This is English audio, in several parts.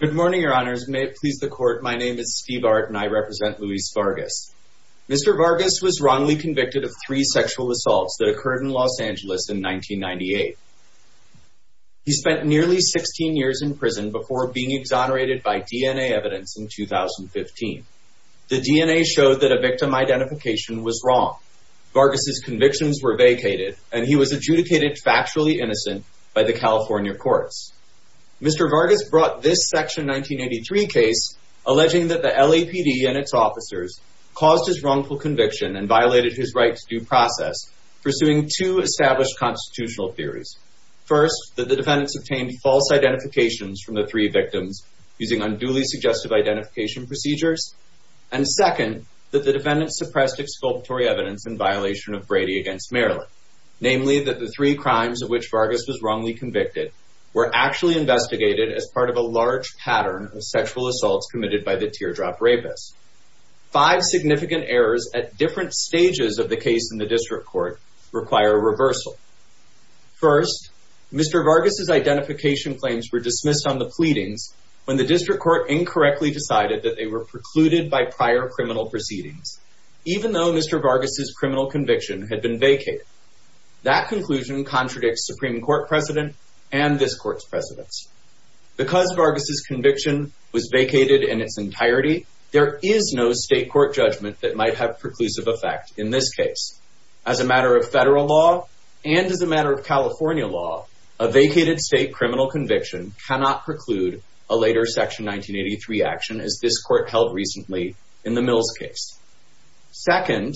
Good morning, your honors. May it please the court, my name is Steve Art and I represent Luis Vargas. Mr. Vargas was wrongly convicted of three sexual assaults that occurred in Los Angeles in 1998. He spent nearly 16 years in prison before being exonerated by DNA evidence in 2015. The DNA showed that a victim identification was wrong. Vargas' convictions were vacated and he was adjudicated factually innocent by the California courts. Mr. Vargas brought this Section 1983 case alleging that the LAPD and its officers caused his wrongful conviction and violated his right to due process, pursuing two established constitutional theories. First, that the defendants obtained false identifications from the three victims using unduly suggestive identification procedures. And second, that the defendants suppressed exculpatory evidence in violation of Brady v. Maryland. Namely, that the three crimes of which Vargas was wrongly convicted were actually investigated as part of a large pattern of sexual assaults committed by the teardrop rapist. Five significant errors at different stages of the case in the district court require reversal. First, Mr. Vargas' identification claims were dismissed on the pleadings when the district court incorrectly decided that they were precluded by prior criminal proceedings. Even though Mr. Vargas' criminal conviction had been vacated, that conclusion contradicts Supreme Court precedent and this court's precedence. Because Vargas' conviction was vacated in its entirety, there is no state court judgment that might have preclusive effect in this case. As a matter of federal law and as a matter of California law, a vacated state criminal conviction cannot preclude a later Section 1983 action as this court held recently in the Mills case. Second,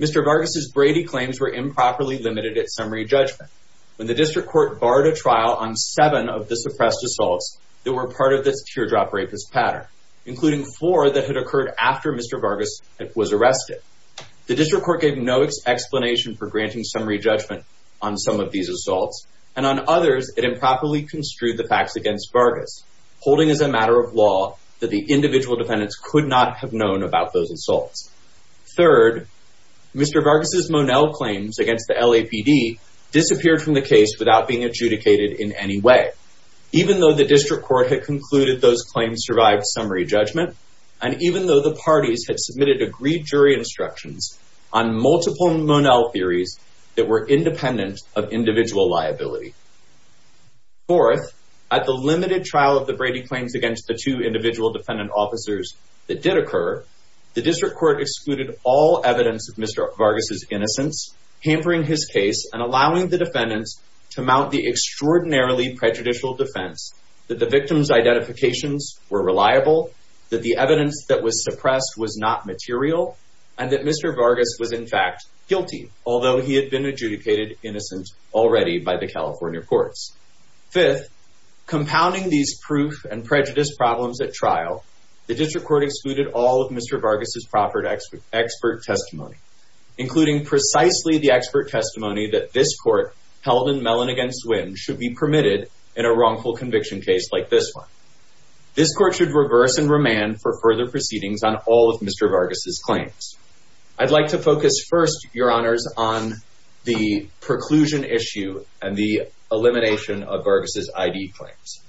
Mr. Vargas' Brady claims were improperly limited at summary judgment when the district court barred a trial on seven of the suppressed assaults that were part of this teardrop rapist pattern, including four that had occurred after Mr. Vargas was arrested. The district court gave no explanation for granting summary judgment on some of these assaults, and on others, it improperly construed the facts against Vargas, holding as a matter of law that the individual defendants could not have known about those assaults. Third, Mr. Vargas' Monell claims against the LAPD disappeared from the case without being adjudicated in any way, even though the district court had concluded those claims survived summary judgment, and even though the parties had submitted agreed jury instructions on multiple Monell theories that were independent of individual liability. Fourth, at the limited trial of the Brady claims against the two individual defendant officers that did occur, the district court excluded all evidence of Mr. Vargas' innocence, hampering his case and allowing the defendants to mount the extraordinarily prejudicial defense that the victims' identifications were reliable, that the evidence that was suppressed was not material, and that Mr. Vargas was in fact guilty, although he had been adjudicated innocent already by the California courts. Fifth, compounding these proof and prejudice problems at trial, the district court excluded all of Mr. Vargas' proper expert testimony, including precisely the expert testimony that this court held in Mellon against Wynn should be permitted in a wrongful conviction case like this one. This court should reverse and remand for further proceedings on all of Mr. Vargas' claims. I'd like to focus first, Your Honors, on the preclusion issue and the elimination of Vargas' I.D. claims.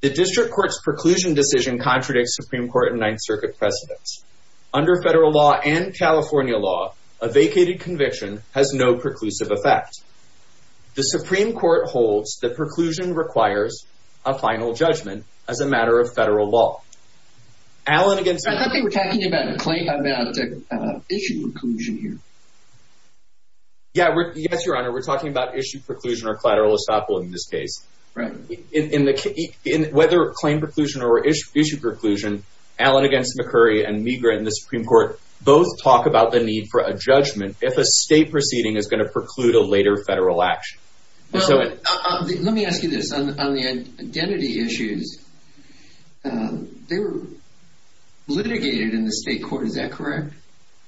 The district court's preclusion decision contradicts Supreme Court and Ninth Circuit precedents. Under federal law and California law, a vacated conviction has no preclusive effect. The Supreme Court holds that preclusion requires a final judgment as a matter of federal law. I thought they were talking about issue preclusion here. Yes, Your Honor, we're talking about issue preclusion or collateral estoppel in this case. Whether claim preclusion or issue preclusion, Allen against McCurry and Meagher in the Supreme Court both talk about the need for a judgment if a state proceeding is going to preclude a later federal action. Let me ask you this. On the identity issues, they were litigated in the state court, is that correct?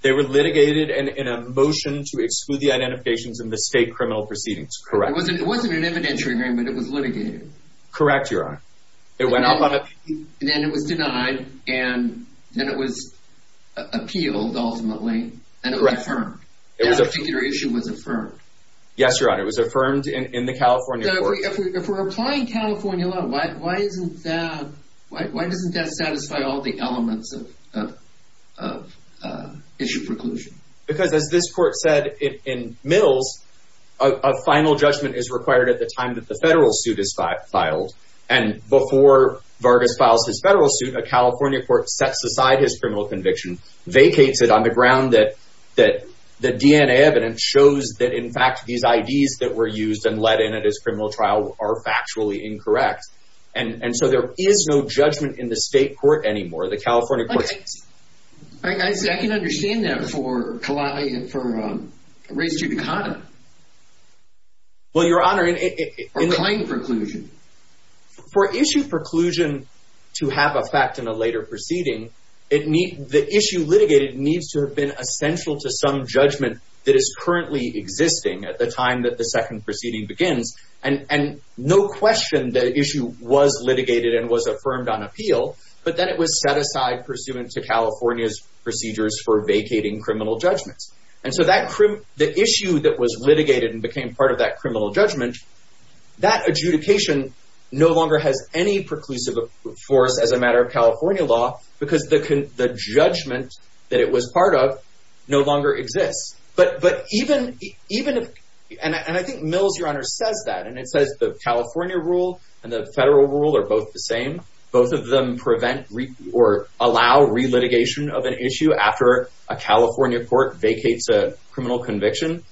They were litigated in a motion to exclude the identifications in the state criminal proceedings, correct. It wasn't an evidentiary hearing, but it was litigated. Correct, Your Honor. Then it was denied and then it was appealed, ultimately, and it was affirmed. That particular issue was affirmed. Yes, Your Honor, it was affirmed in the California court. If we're applying California law, why doesn't that satisfy all the elements of issue preclusion? Because as this court said in Mills, a final judgment is required at the time that the federal suit is filed. And before Vargas files his federal suit, a California court sets aside his criminal conviction, vacates it on the ground that the DNA evidence shows that, in fact, these IDs that were used and let in at his criminal trial are factually incorrect. And so there is no judgment in the state court anymore. The California court— I can understand that for Kalani and for race judicata. Well, Your Honor— Or claim preclusion. For issue preclusion to have a fact in a later proceeding, the issue litigated needs to have been essential to some judgment that is currently existing at the time that the second proceeding begins. And no question, the issue was litigated and was affirmed on appeal, but then it was set aside pursuant to California's procedures for vacating criminal judgments. And so the issue that was litigated and became part of that criminal judgment, that adjudication no longer has any preclusive force as a matter of California law because the judgment that it was part of no longer exists. But even—and I think Mills, Your Honor, says that, and it says the California rule and the federal rule are both the same. Both of them prevent or allow re-litigation of an issue after a California court vacates a criminal conviction.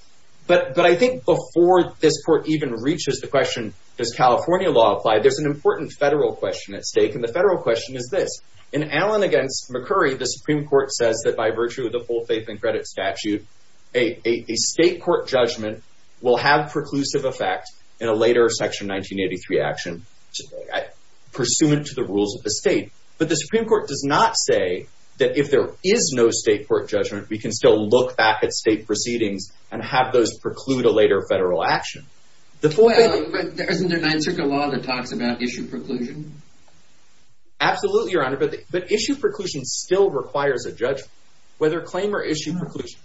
But I think before this court even reaches the question, does California law apply, there's an important federal question at stake. And the federal question is this. In Allen v. McCurry, the Supreme Court says that by virtue of the full faith and credit statute, a state court judgment will have preclusive effect in a later Section 1983 action pursuant to the rules of the state. But the Supreme Court does not say that if there is no state court judgment, we can still look back at state proceedings and have those preclude a later federal action. The full faith— Well, but isn't there an answer to the law that talks about issue preclusion? Absolutely, Your Honor. But issue preclusion still requires a judgment, whether claim or issue preclusion.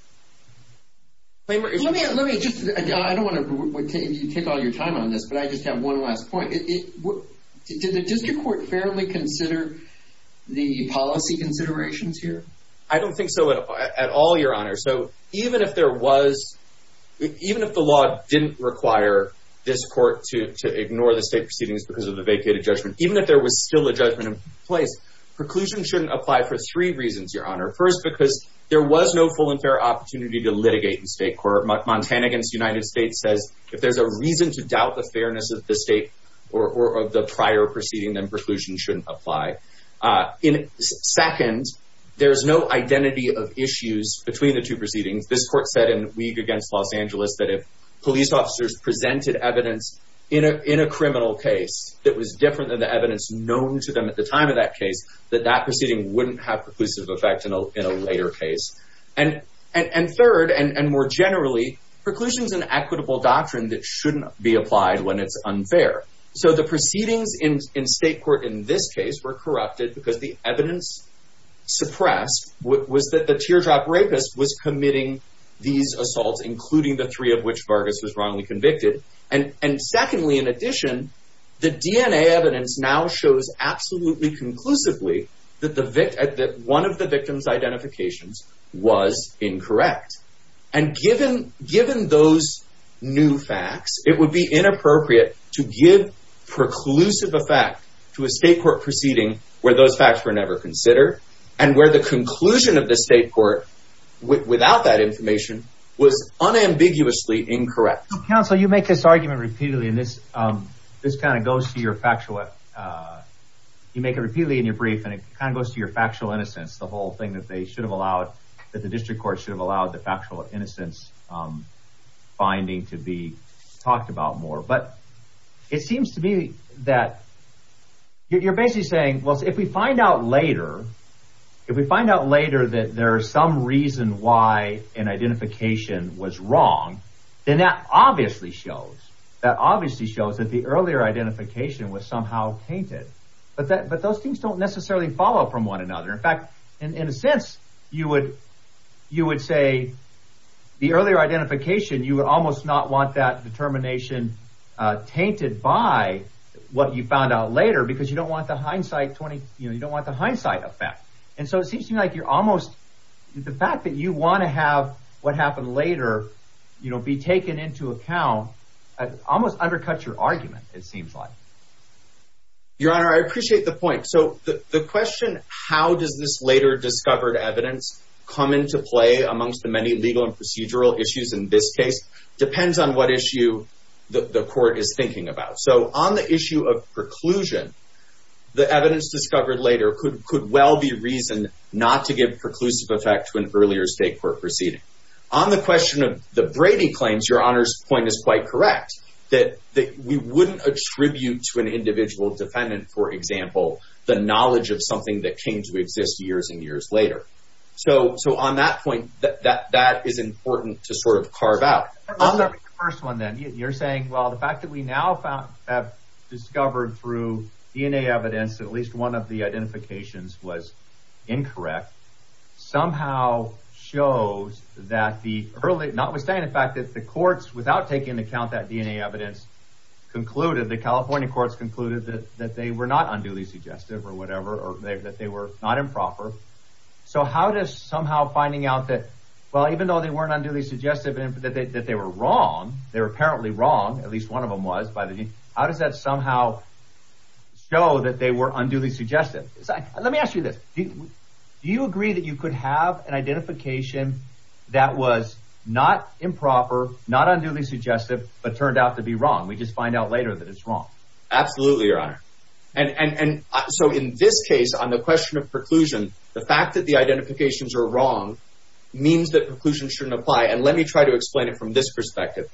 Let me just—I don't want to take all your time on this, but I just have one last point. Does your court fairly consider the policy considerations here? I don't think so at all, Your Honor. So even if there was—even if the law didn't require this court to ignore the state proceedings because of the vacated judgment, even if there was still a judgment in place, preclusion shouldn't apply for three reasons, Your Honor. First, because there was no full and fair opportunity to litigate in state court. Montana v. United States says if there's a reason to doubt the fairness of the state or of the prior proceeding, then preclusion shouldn't apply. Second, there's no identity of issues between the two proceedings. This court said in Weig against Los Angeles that if police officers presented evidence in a criminal case that was different than the evidence known to them at the time of that case, that that proceeding wouldn't have preclusive effect in a later case. And third, and more generally, preclusion is an equitable doctrine that shouldn't be applied when it's unfair. So the proceedings in state court in this case were corrupted because the evidence suppressed was that the teardrop rapist was committing these assaults, including the three of which Vargas was wrongly convicted. And secondly, in addition, the DNA evidence now shows absolutely conclusively that one of the victims' identifications was incorrect. And given those new facts, it would be inappropriate to give preclusive effect to a state court proceeding where those facts were never considered and where the conclusion of the state court, without that information, was unambiguously incorrect. Counsel, you make this argument repeatedly, and this kind of goes to your factual... You make it repeatedly in your brief, and it kind of goes to your factual innocence, the whole thing that they should have allowed, that the district court should have allowed the factual innocence finding to be talked about more. But it seems to me that you're basically saying, well, if we find out later, if we find out later that there is some reason why an identification was wrong, then that obviously shows that the earlier identification was somehow tainted. But those things don't necessarily follow from one another. In fact, in a sense, you would say the earlier identification, you would almost not want that determination tainted by what you found out later because you don't want the hindsight effect. And so it seems to me like you're almost... The fact that you want to have what happened later be taken into account almost undercuts your argument, it seems like. Your Honor, I appreciate the point. So the question, how does this later discovered evidence come into play amongst the many legal and procedural issues in this case, depends on what issue the court is thinking about. So on the issue of preclusion, the evidence discovered later could well be reason not to give preclusive effect to an earlier state court proceeding. On the question of the Brady claims, Your Honor's point is quite correct, that we wouldn't attribute to an individual defendant, for example, the knowledge of something that came to exist years and years later. So on that point, that is important to sort of carve out. Let's start with the first one then. You're saying, well, the fact that we now have discovered through DNA evidence that at least one of the identifications was incorrect somehow shows that the early... DNA evidence concluded, the California courts concluded that they were not unduly suggestive or whatever, or that they were not improper. So how does somehow finding out that, well, even though they weren't unduly suggestive and that they were wrong, they were apparently wrong, at least one of them was, how does that somehow show that they were unduly suggestive? Let me ask you this. Do you agree that you could have an identification that was not improper, not unduly suggestive, but turned out to be wrong? We just find out later that it's wrong. Absolutely, Your Honor. And so in this case, on the question of preclusion, the fact that the identifications are wrong means that preclusion shouldn't apply. And let me try to explain it from this perspective.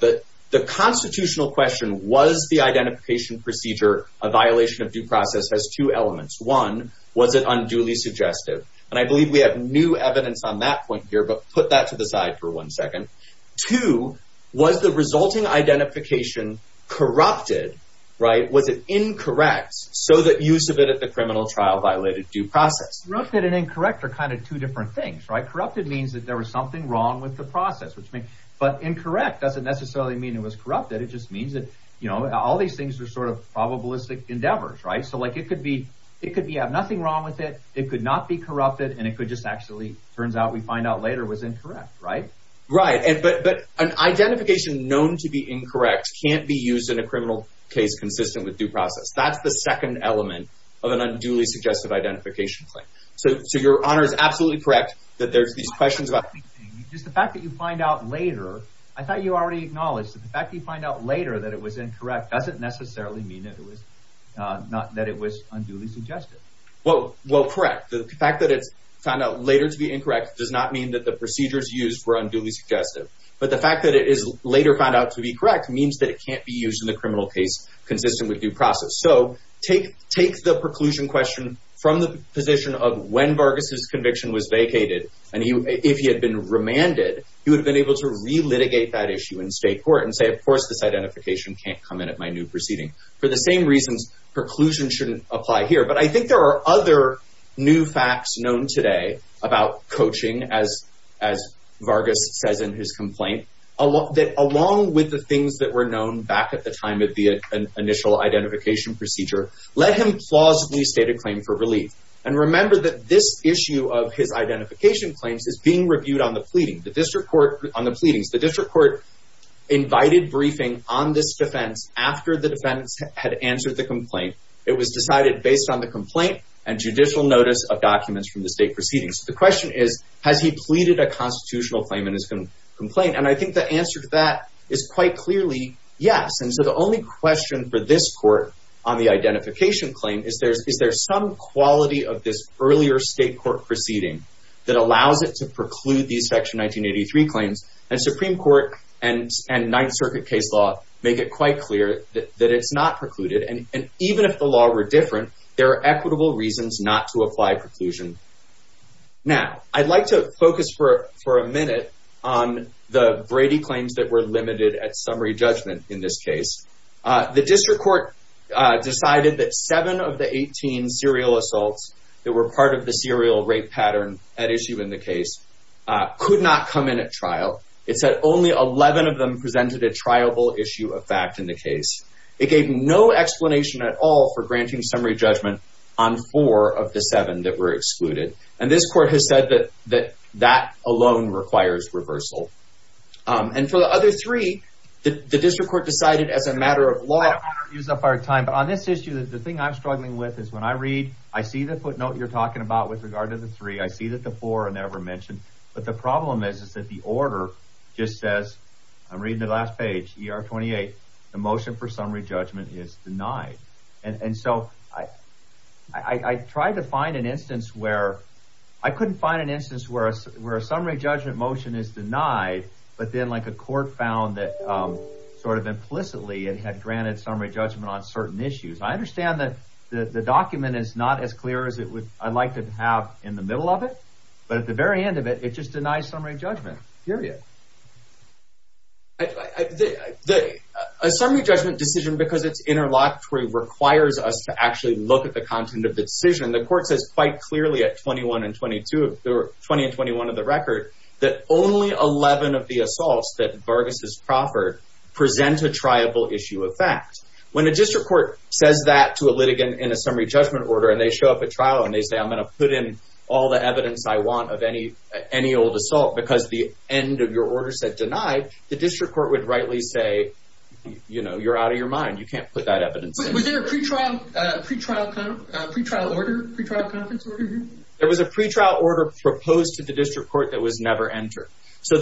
The constitutional question, was the identification procedure a violation of due process, has two elements. One, was it unduly suggestive? And I believe we have new evidence on that point here, but put that to the side for one second. Two, was the resulting identification corrupted? Was it incorrect so that use of it at the criminal trial violated due process? Corrupted and incorrect are kind of two different things. Corrupted means that there was something wrong with the process. But incorrect doesn't necessarily mean it was corrupted. It just means that all these things are sort of probabilistic endeavors. So it could be you have nothing wrong with it, it could not be corrupted, and it could just actually, turns out we find out later, was incorrect, right? Right. But an identification known to be incorrect can't be used in a criminal case consistent with due process. That's the second element of an unduly suggestive identification claim. So Your Honor is absolutely correct that there's these questions about... Just the fact that you find out later, I thought you already acknowledged that the fact that you find out later that it was incorrect doesn't necessarily mean that it was unduly suggestive. Well, correct. The fact that it's found out later to be incorrect does not mean that the procedures used were unduly suggestive. But the fact that it is later found out to be correct means that it can't be used in the criminal case consistent with due process. So take the preclusion question from the position of when Vargas' conviction was vacated, and if he had been remanded, he would have been able to re-litigate that issue in state court and say, of course, this identification can't come in at my new proceeding. For the same reasons, preclusion shouldn't apply here. But I think there are other new facts known today about coaching, as Vargas says in his complaint, that along with the things that were known back at the time of the initial identification procedure, let him plausibly state a claim for relief. And remember that this issue of his identification claims is being reviewed on the pleadings. after the defense had answered the complaint. It was decided based on the complaint and judicial notice of documents from the state proceedings. The question is, has he pleaded a constitutional claim in his complaint? And I think the answer to that is quite clearly yes. And so the only question for this court on the identification claim is there some quality of this earlier state court proceeding that allows it to preclude these Section 1983 claims. And Supreme Court and Ninth Circuit case law make it quite clear that it's not precluded. And even if the law were different, there are equitable reasons not to apply preclusion. Now, I'd like to focus for a minute on the Brady claims that were limited at summary judgment in this case. The district court decided that seven of the 18 serial assaults that were part of the serial rape pattern at issue in the case could not come in at trial. It said only 11 of them presented a trialable issue of fact in the case. It gave no explanation at all for granting summary judgment on four of the seven that were excluded. And this court has said that that alone requires reversal. And for the other three, the district court decided as a matter of law... I don't want to use up our time, but on this issue, the thing I'm struggling with is when I read, I see the footnote you're talking about with regard to the three, I see that the four are never mentioned. But the problem is that the order just says, I'm reading the last page, ER 28, the motion for summary judgment is denied. And so I tried to find an instance where... I couldn't find an instance where a summary judgment motion is denied, but then, like, a court found that sort of implicitly it had granted summary judgment on certain issues. I understand that the document is not as clear as I'd like to have in the middle of it, but at the very end of it, it just denies summary judgment, period. A summary judgment decision, because it's interlocutory, requires us to actually look at the content of the decision. The court says quite clearly at 20 and 21 of the record that only 11 of the assaults that Vargas has proffered present a triable issue of fact. When a district court says that to a litigant in a summary judgment order and they show up at trial and they say, I'm going to put in all the evidence I want of any old assault because the end of your order said denied, the district court would rightly say, you know, you're out of your mind. You can't put that evidence in. Was there a pre-trial order, pre-trial conference order here? There was a pre-trial order proposed to the district court that was never entered. So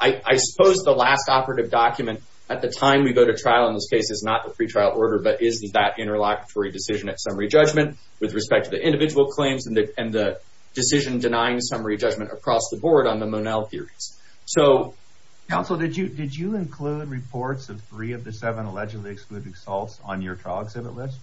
I suppose the last operative document at the time we go to trial in this case is not the pre-trial order, but is that interlocutory decision at summary judgment with respect to the individual claims and the decision denying summary judgment across the board on the Monell theories. So... Counsel, did you include reports of three of the seven allegedly excluded assaults on your trial exhibit list?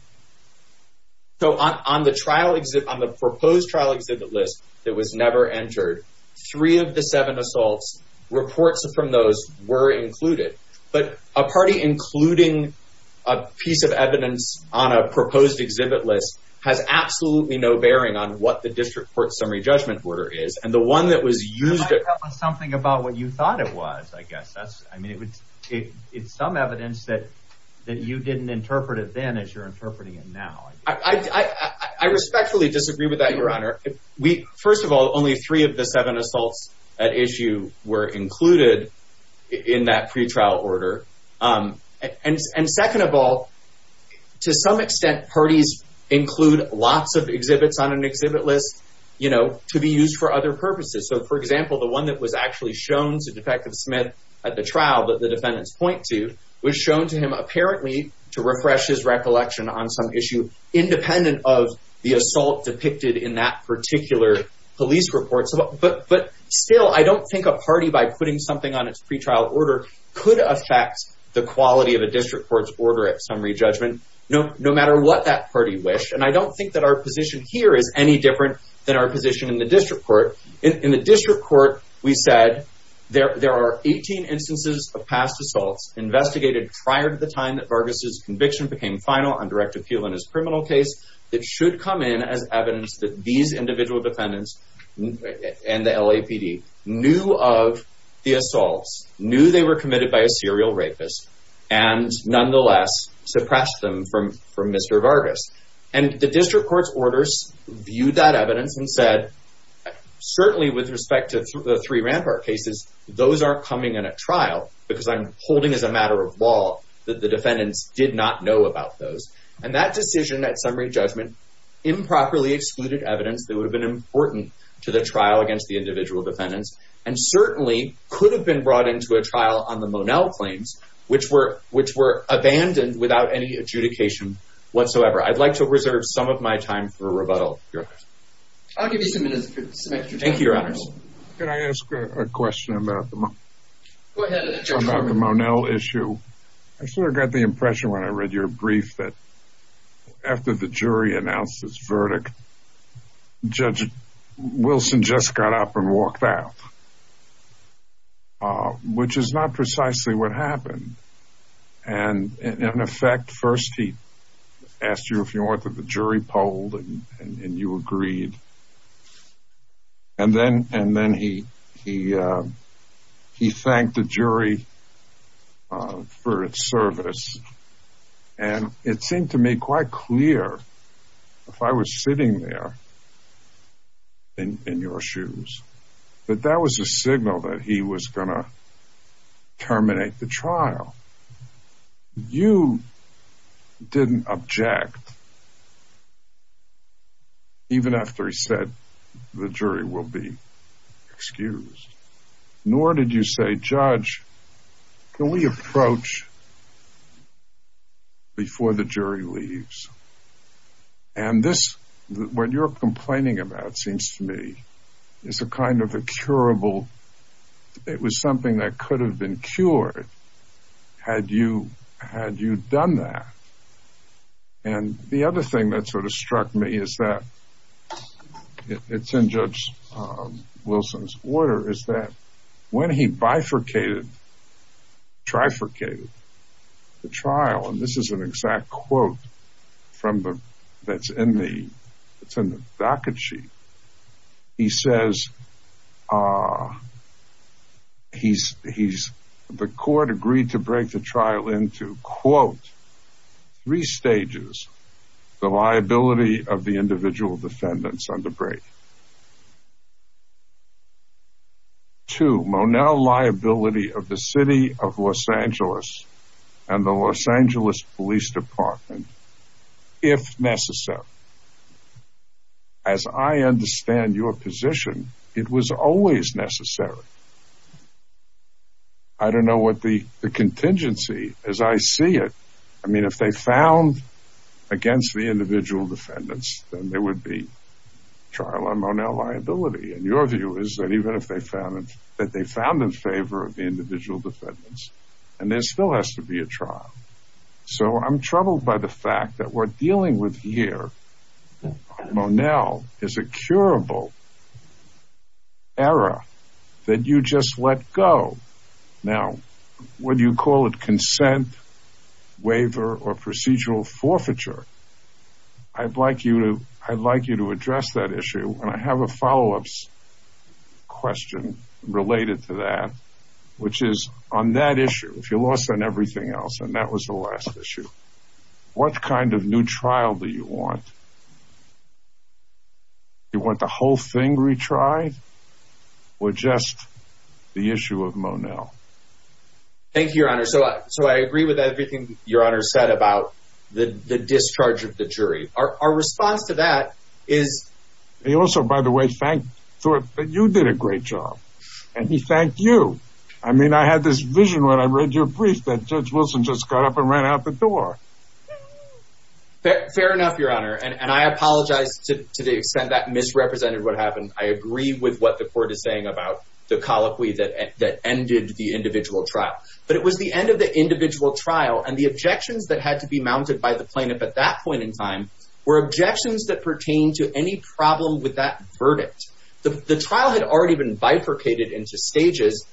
So on the proposed trial exhibit list that was never entered, three of the seven assaults, reports from those were included. But a party including a piece of evidence on a proposed exhibit list has absolutely no bearing on what the district court summary judgment order is. And the one that was used... You might tell us something about what you thought it was, I guess. I mean, it's some evidence that you didn't interpret it then as you're interpreting it now. I respectfully disagree with that, Your Honor. First of all, only three of the seven assaults at issue were included in that pre-trial order. And second of all, to some extent, parties include lots of exhibits on an exhibit list to be used for other purposes. So, for example, the one that was actually shown to Detective Smith at the trial that the defendants point to was shown to him apparently to refresh his recollection on some issue independent of the assault depicted in that particular police report. But still, I don't think a party by putting something on its pre-trial order could affect the quality of a district court's order at summary judgment no matter what that party wished. And I don't think that our position here is any different than our position in the district court. In the district court, we said, there are 18 instances of past assaults investigated prior to the time that Vargas' conviction became final on direct appeal in his criminal case that should come in as evidence that these individual defendants and the LAPD knew of the assaults, knew they were committed by a serial rapist, and nonetheless suppressed them from Mr. Vargas. And the district court's orders viewed that evidence and said, certainly with respect to the three Rampart cases, those aren't coming in at trial because I'm holding as a matter of law that the defendants did not know about those. And that decision at summary judgment improperly excluded evidence that would have been important to the trial against the individual defendants and certainly could have been brought into a trial on the Monell claims which were abandoned without any adjudication whatsoever. I'd like to reserve some of my time for rebuttal. I'll give you some extra time. Thank you, Your Honors. Can I ask a question about the Monell issue? I sort of got the impression when I read your brief that after the jury announced its verdict, Judge Wilson just got up and walked out, which is not precisely what happened. And, in effect, first he asked you if you wanted the jury polled, and you agreed. And it seemed to me quite clear, if I was sitting there in your shoes, that that was a signal that he was going to terminate the trial. You didn't object, even after he said the jury will be excused. Nor did you say, Judge, can we approach before the jury leaves? And this, what you're complaining about, seems to me, is a kind of a curable, it was something that could have been cured had you done that. And the other thing that sort of struck me is that, and it's in Judge Wilson's order, is that when he bifurcated, trifurcated the trial, and this is an exact quote that's in the docket sheet, he says the court agreed to break the trial into, quote, three stages. The liability of the individual defendants under break. Two, Monell liability of the City of Los Angeles and the Los Angeles Police Department, if necessary. As I understand your position, it was always necessary. I don't know what the contingency, as I see it, I mean, if they found against the individual defendants, then there would be trial on Monell liability. And your view is that even if they found, that they found in favor of the individual defendants, and there still has to be a trial. So I'm troubled by the fact that we're dealing with here, Monell is a curable error that you just let go. Now, whether you call it consent, waiver, or procedural forfeiture, I'd like you to address that issue. And I have a follow-up question related to that, which is on that issue, if you lost on everything else, and that was the last issue, what kind of new trial do you want? Do you want the whole thing retried, or just the issue of Monell? Thank you, Your Honor. So I agree with everything Your Honor said about the discharge of the jury. Our response to that is... He also, by the way, thanked, thought that you did a great job, and he thanked you. I mean, I had this vision when I read your brief that Judge Wilson just got up and ran out the door. Fair enough, Your Honor. And I apologize to the extent that misrepresented what happened. I agree with what the court is saying about the colloquy that ended the individual trial. But it was the end of the individual trial, and the objections that had to be mounted by the plaintiff at that point in time were objections that pertained to any problem with that verdict. The trial had already been bifurcated into stages,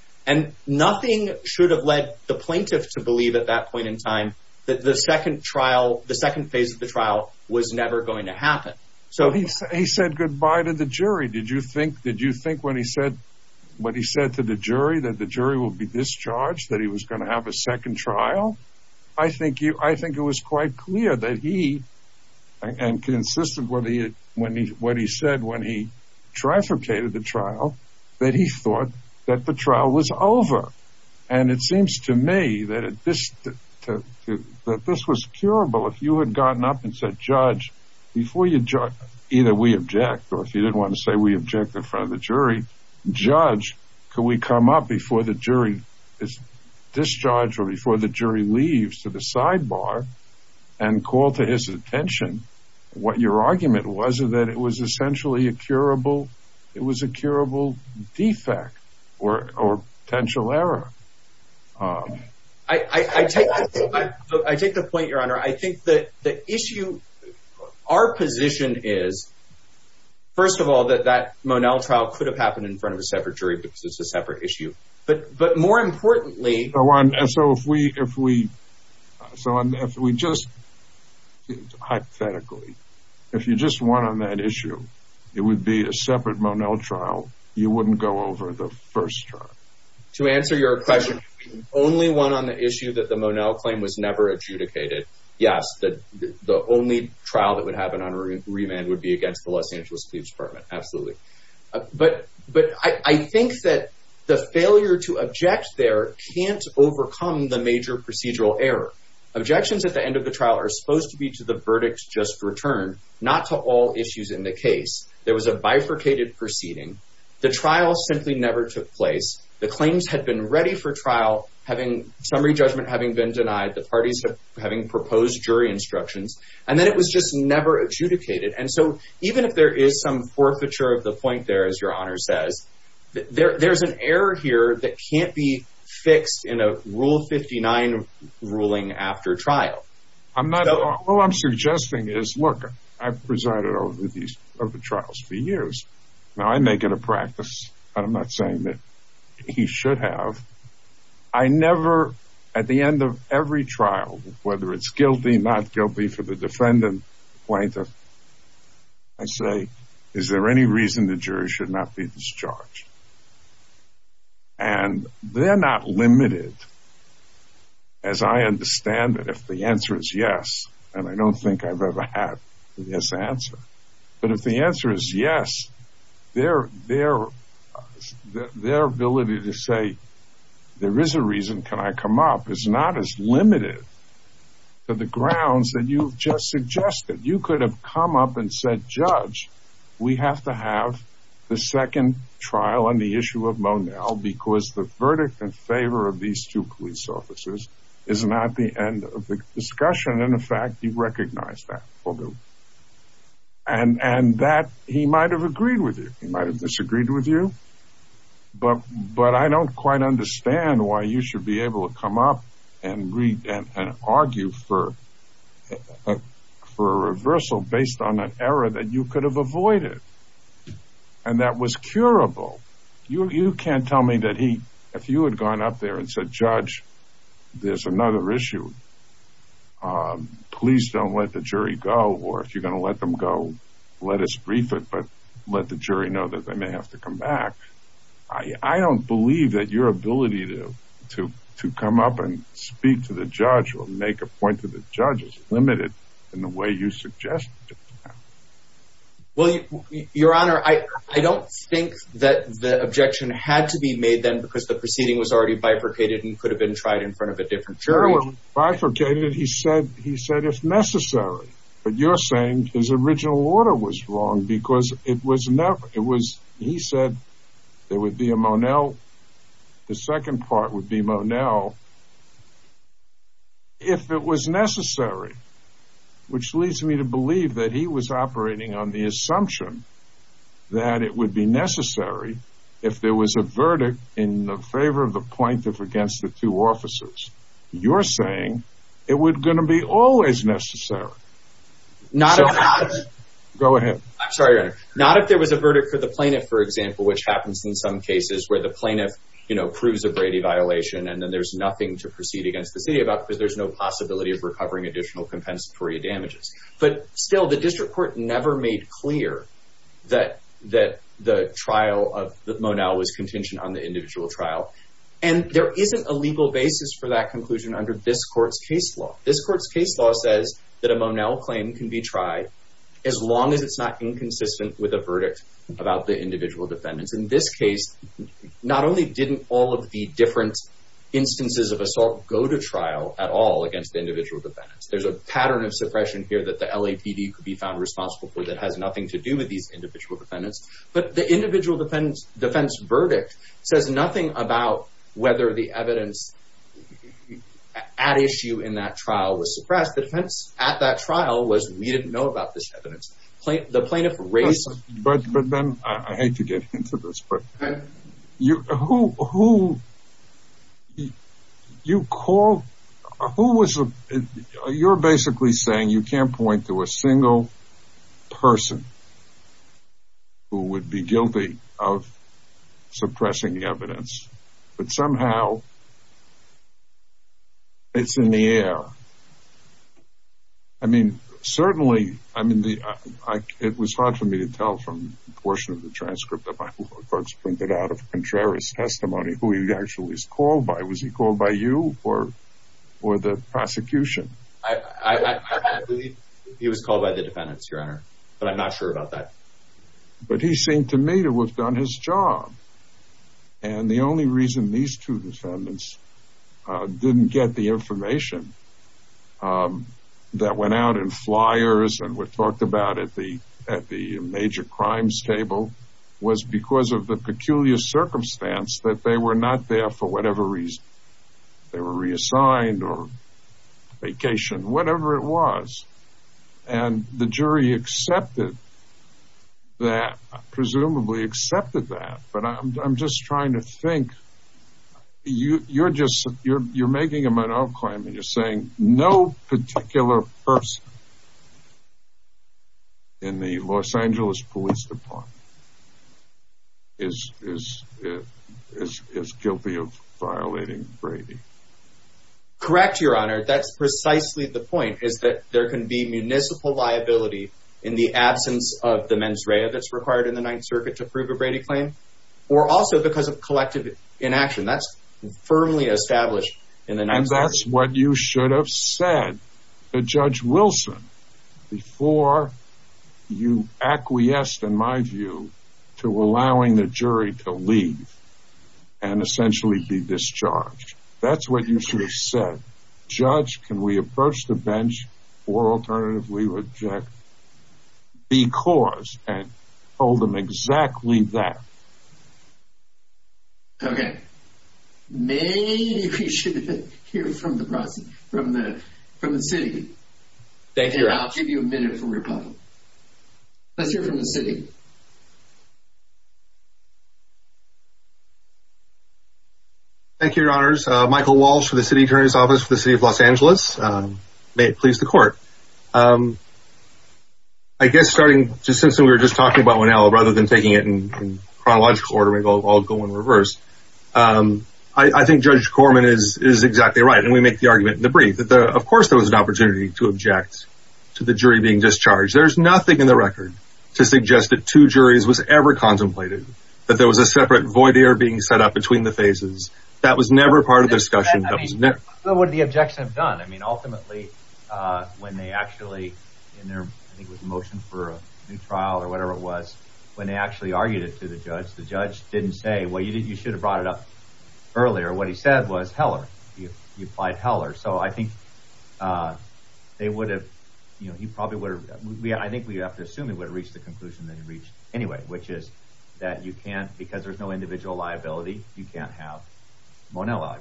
that the second phase of the trial was never going to happen. He said goodbye to the jury. Did you think when he said to the jury that the jury would be discharged, that he was going to have a second trial? I think it was quite clear that he, and consistent with what he said when he trifurcated the trial, that he thought that the trial was over. And it seems to me that this was curable if you had gotten up and said, Judge, before you judge, either we object, or if you didn't want to say we object in front of the jury, Judge, could we come up before the jury is discharged or before the jury leaves to the sidebar and call to his attention what your argument was that it was essentially a curable defect or potential error. I take the point, Your Honor. I think the issue, our position is, first of all, that that Monel trial could have happened in front of a separate jury because it's a separate issue. But more importantly... So if we just, hypothetically, if you just went on that issue, it would be a separate Monel trial. You wouldn't go over the first trial. To answer your question, only one on the issue that the Monel claim was never adjudicated. Yes, the only trial that would happen on remand would be against the Los Angeles Police Department, absolutely. But I think that the failure to object there can't overcome the major procedural error. Objections at the end of the trial are supposed to be to the verdict just returned, not to all issues in the case. There was a bifurcated proceeding. The trial simply never took place. The claims had been ready for trial, summary judgment having been denied, the parties having proposed jury instructions, and then it was just never adjudicated. And so even if there is some forfeiture of the point there, as Your Honor says, there's an error here that can't be fixed in a Rule 59 ruling after trial. All I'm suggesting is, look, I've presided over these trials for years. Now, I make it a practice, but I'm not saying that you should have. I never, at the end of every trial, whether it's guilty, not guilty for the defendant, plaintiff, I say, is there any reason the jury should not be discharged? And they're not limited, as I understand it, if the answer is yes, and I don't think I've ever had a yes answer. But if the answer is yes, their ability to say, there is a reason, can I come up, is not as limited to the grounds that you've just suggested. You could have come up and said, judge, we have to have the second trial on the issue of Monell because the verdict in favor of these two police officers is not the end of the discussion. In fact, you recognize that. And that, he might have agreed with you. He might have disagreed with you. But I don't quite understand why you should be able to come up and argue for a reversal based on an error that you could have avoided and that was curable. You can't tell me that if you had gone up there and said, judge, there's another issue, please don't let the jury go, or if you're going to let them go, let us brief it, but let the jury know that they may have to come back. I don't believe that your ability to come up and speak to the judge or make a point to the judge is limited in the way you suggested. Your Honor, I don't think that the objection had to be made then because the proceeding was already bifurcated and could have been tried in front of a different jury. It was bifurcated. He said it's necessary. But you're saying his original order was wrong because it was never. He said there would be a Monell. The second part would be Monell. If it was necessary, which leads me to believe that he was operating on the assumption that it would be necessary if there was a verdict in favor of the plaintiff against the two officers. You're saying it was going to be always necessary. Go ahead. I'm sorry, Your Honor. Not if there was a verdict for the plaintiff, for example, which happens in some cases where the plaintiff proves a Brady violation and then there's nothing to proceed against the city about because there's no possibility of recovering additional compensatory damages. But still, the district court never made clear that the trial of Monell was contingent on the individual trial. And there isn't a legal basis for that conclusion under this court's case law. This court's case law says that a Monell claim can be tried as long as it's not inconsistent with a verdict about the individual defendants. In this case, not only didn't all of the different instances of assault go to trial at all against the individual defendants. There's a pattern of suppression here that the LAPD could be found responsible for that has nothing to do with these individual defendants. But the individual defense verdict says nothing about whether the evidence at issue in that trial was suppressed. The defense at that trial was we didn't know about this evidence. But then, I hate to get into this, but you're basically saying you can't point to a single person who would be guilty of suppressing the evidence but somehow it's in the air. I mean, certainly, it was hard for me to tell from the portion of the transcript that my law clerks printed out of Contreras' testimony who he actually was called by. Was he called by you or the prosecution? I believe he was called by the defendants, Your Honor. But I'm not sure about that. But he seemed to me to have done his job. And the only reason these two defendants didn't get the information that went out in flyers and were talked about at the major crimes table was because of the peculiar circumstance that they were not there for whatever reason. They were reassigned or vacationed, whatever it was. And the jury accepted that, presumably accepted that. But I'm just trying to think. You're making a Monod claim and you're saying no particular person in the Los Angeles Police Department is guilty of violating Brady. Correct, Your Honor. That's precisely the point, is that there can be municipal liability in the absence of the mens rea that's required in the Ninth Circuit to prove a Brady claim or also because of collective inaction. That's firmly established in the Ninth Circuit. And that's what you should have said to Judge Wilson before you acquiesced, in my view, to allowing the jury to leave and essentially be discharged. That's what you should have said. Judge, can we approach the bench or alternatively reject because and told them exactly that. Okay. Maybe we should hear from the city. Thank you, Your Honor. And I'll give you a minute for rebuttal. Let's hear from the city. Thank you, Your Honors. Michael Walsh for the City Attorney's Office for the City of Los Angeles. May it please the Court. I guess starting just since we were just talking about Winnell rather than taking it in chronological order, I'll go in reverse. I think Judge Corman is exactly right. And we make the argument in the brief that, of course, there was an opportunity to object to the jury being discharged. There's nothing in the record to suggest that two juries was ever contemplated, that there was a separate void there being set up between the phases. That was never part of the discussion. I mean, what would the objection have done? I mean, ultimately, when they actually in their motion for a new trial or whatever it was, when they actually argued it to the judge, the judge didn't say, well, you should have brought it up earlier. What he said was Heller. He applied Heller. So I think they would have, you know, he probably would have, I think we have to assume he would have reached the conclusion that he reached anyway, which is that you can't, because there's no individual liability, you can't have Monell.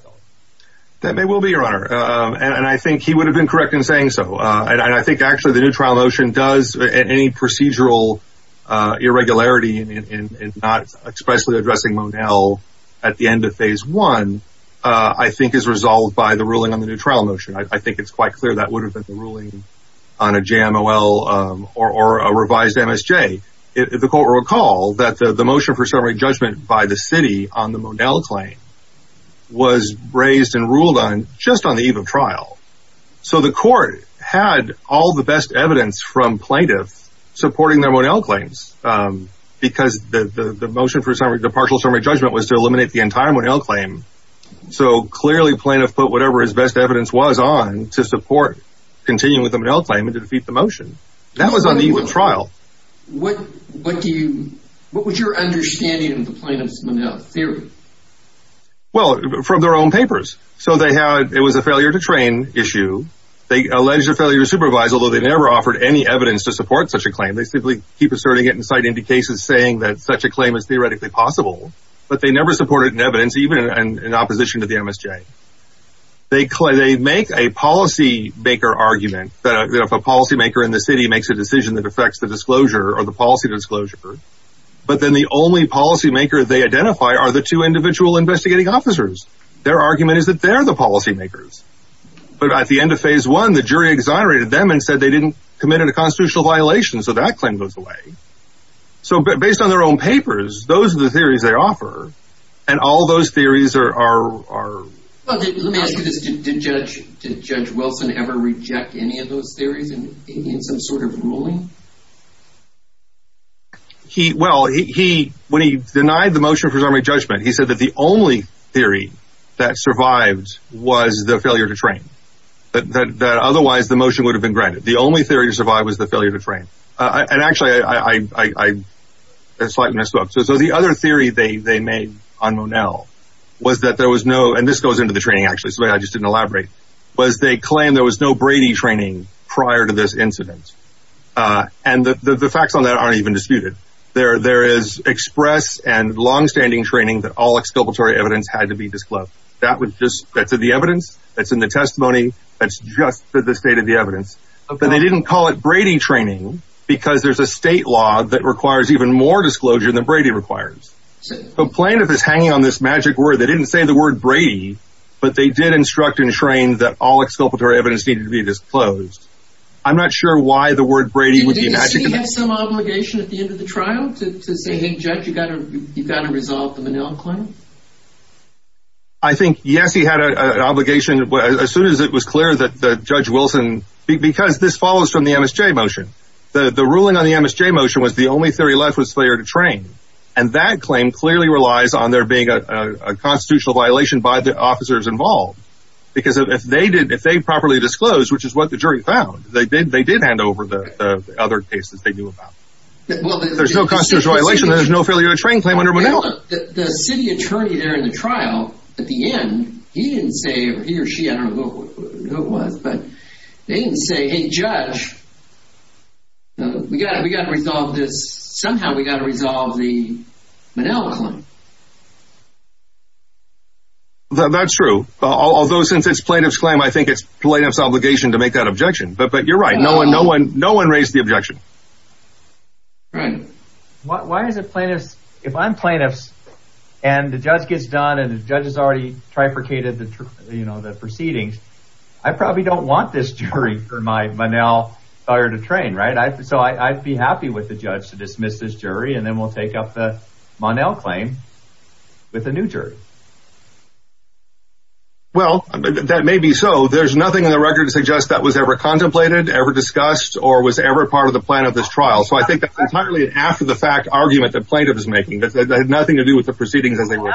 That may well be your honor. And I think he would have been correct in saying so. And I think actually the new trial motion does any procedural irregularity in not expressly addressing Monell at the end of phase one, I think is resolved by the ruling on the new trial motion. I think it's quite clear that would have been the ruling on a JMOL or a revised MSJ. The court recalled that the motion for summary judgment by the city on the Monell claim was raised and ruled on just on the eve of trial. So the court had all the best evidence from plaintiff supporting their Monell claims because the motion for summary, the partial summary judgment was to eliminate the entire Monell claim. So clearly plaintiff put whatever his best evidence was on to support continuing with the Monell claim and to defeat the motion. That was on the eve of trial. What do you, what was your understanding of the plaintiff's Monell theory? Well, from their own papers. So they had, it was a failure to train issue. They alleged a failure to supervise, although they never offered any evidence to support such a claim. They simply keep asserting it and citing the cases saying that such a claim is theoretically possible, but they never supported in evidence, even in opposition to the MSJ. They make a policy maker argument that if a policy maker in the city makes a decision that affects the disclosure or the policy disclosure, but then the only policy maker they identify are the two individual investigating officers. Their argument is that they're the policy makers. But at the end of phase one, the jury exonerated them and said they didn't commit a constitutional violation. So that claim goes away. So based on their own papers, those are the theories they offer and all those theories are, are, are. Let me ask you this. Did judge, did judge Wilson ever reject any of those theories in, in some sort of ruling? He, well, he, he, when he denied the motion for summary judgment, he said that the only theory that survived was the failure to train that, that, that otherwise the motion would have been granted. The only theory to survive was the failure to train. And actually I, I, I, I slightly messed up. So, so the other theory they, they made on Monell was that there was no, and this goes into the training actually, so I just didn't elaborate was they claim there was no Brady training prior to this incident. And the facts on that aren't even disputed there. There is express and longstanding training that all exculpatory evidence had to be disclosed. That would just, that's the evidence that's in the testimony. That's just the state of the evidence, but they didn't call it Brady training because there's a state law that requires even more disclosure than Brady requires. So plaintiff is hanging on this magic word. They didn't say the word Brady, but they did instruct and train that all exculpatory evidence needed to be disclosed. I'm not sure why the word Brady would be magic. Did he have some obligation at the end of the trial to, to say, Hey, judge, you gotta, you gotta resolve the Monell claim. I think, yes, he had an obligation as soon as it was clear that the judge Wilson, because this follows from the MSJ motion, the ruling on the MSJ motion was the only theory left was failure to train. And that claim clearly relies on there being a constitutional violation by the officers involved. Because if they did, if they properly disclosed, which is what the jury found, they did, they did hand over the other cases they knew about. There's no constitutional violation. There's no failure to train claim under Monell. The city attorney there in the trial at the end, he didn't say he or she, I don't know who it was, but they didn't say, Hey, judge, we gotta, we gotta resolve this. Somehow we got to resolve the Monell claim. That's true. Although, since it's plaintiff's claim, I think it's plaintiff's obligation to make that objection, but, but you're right. No one, no one, no one raised the objection. Right. Why is it plaintiffs? If I'm plaintiffs and the judge gets done and the judge has already trifurcated the proceedings, I probably don't want this jury for my Monell failure to train. Right. So I'd be happy with the judge to dismiss this jury. And then we'll take up the Monell claim with a new jury. Well, that may be. So there's nothing in the record to suggest that was ever contemplated, ever discussed, or was ever part of the plan of this trial. So I think that's entirely an after the fact argument that plaintiff is making, but that had nothing to do with the proceedings as they were.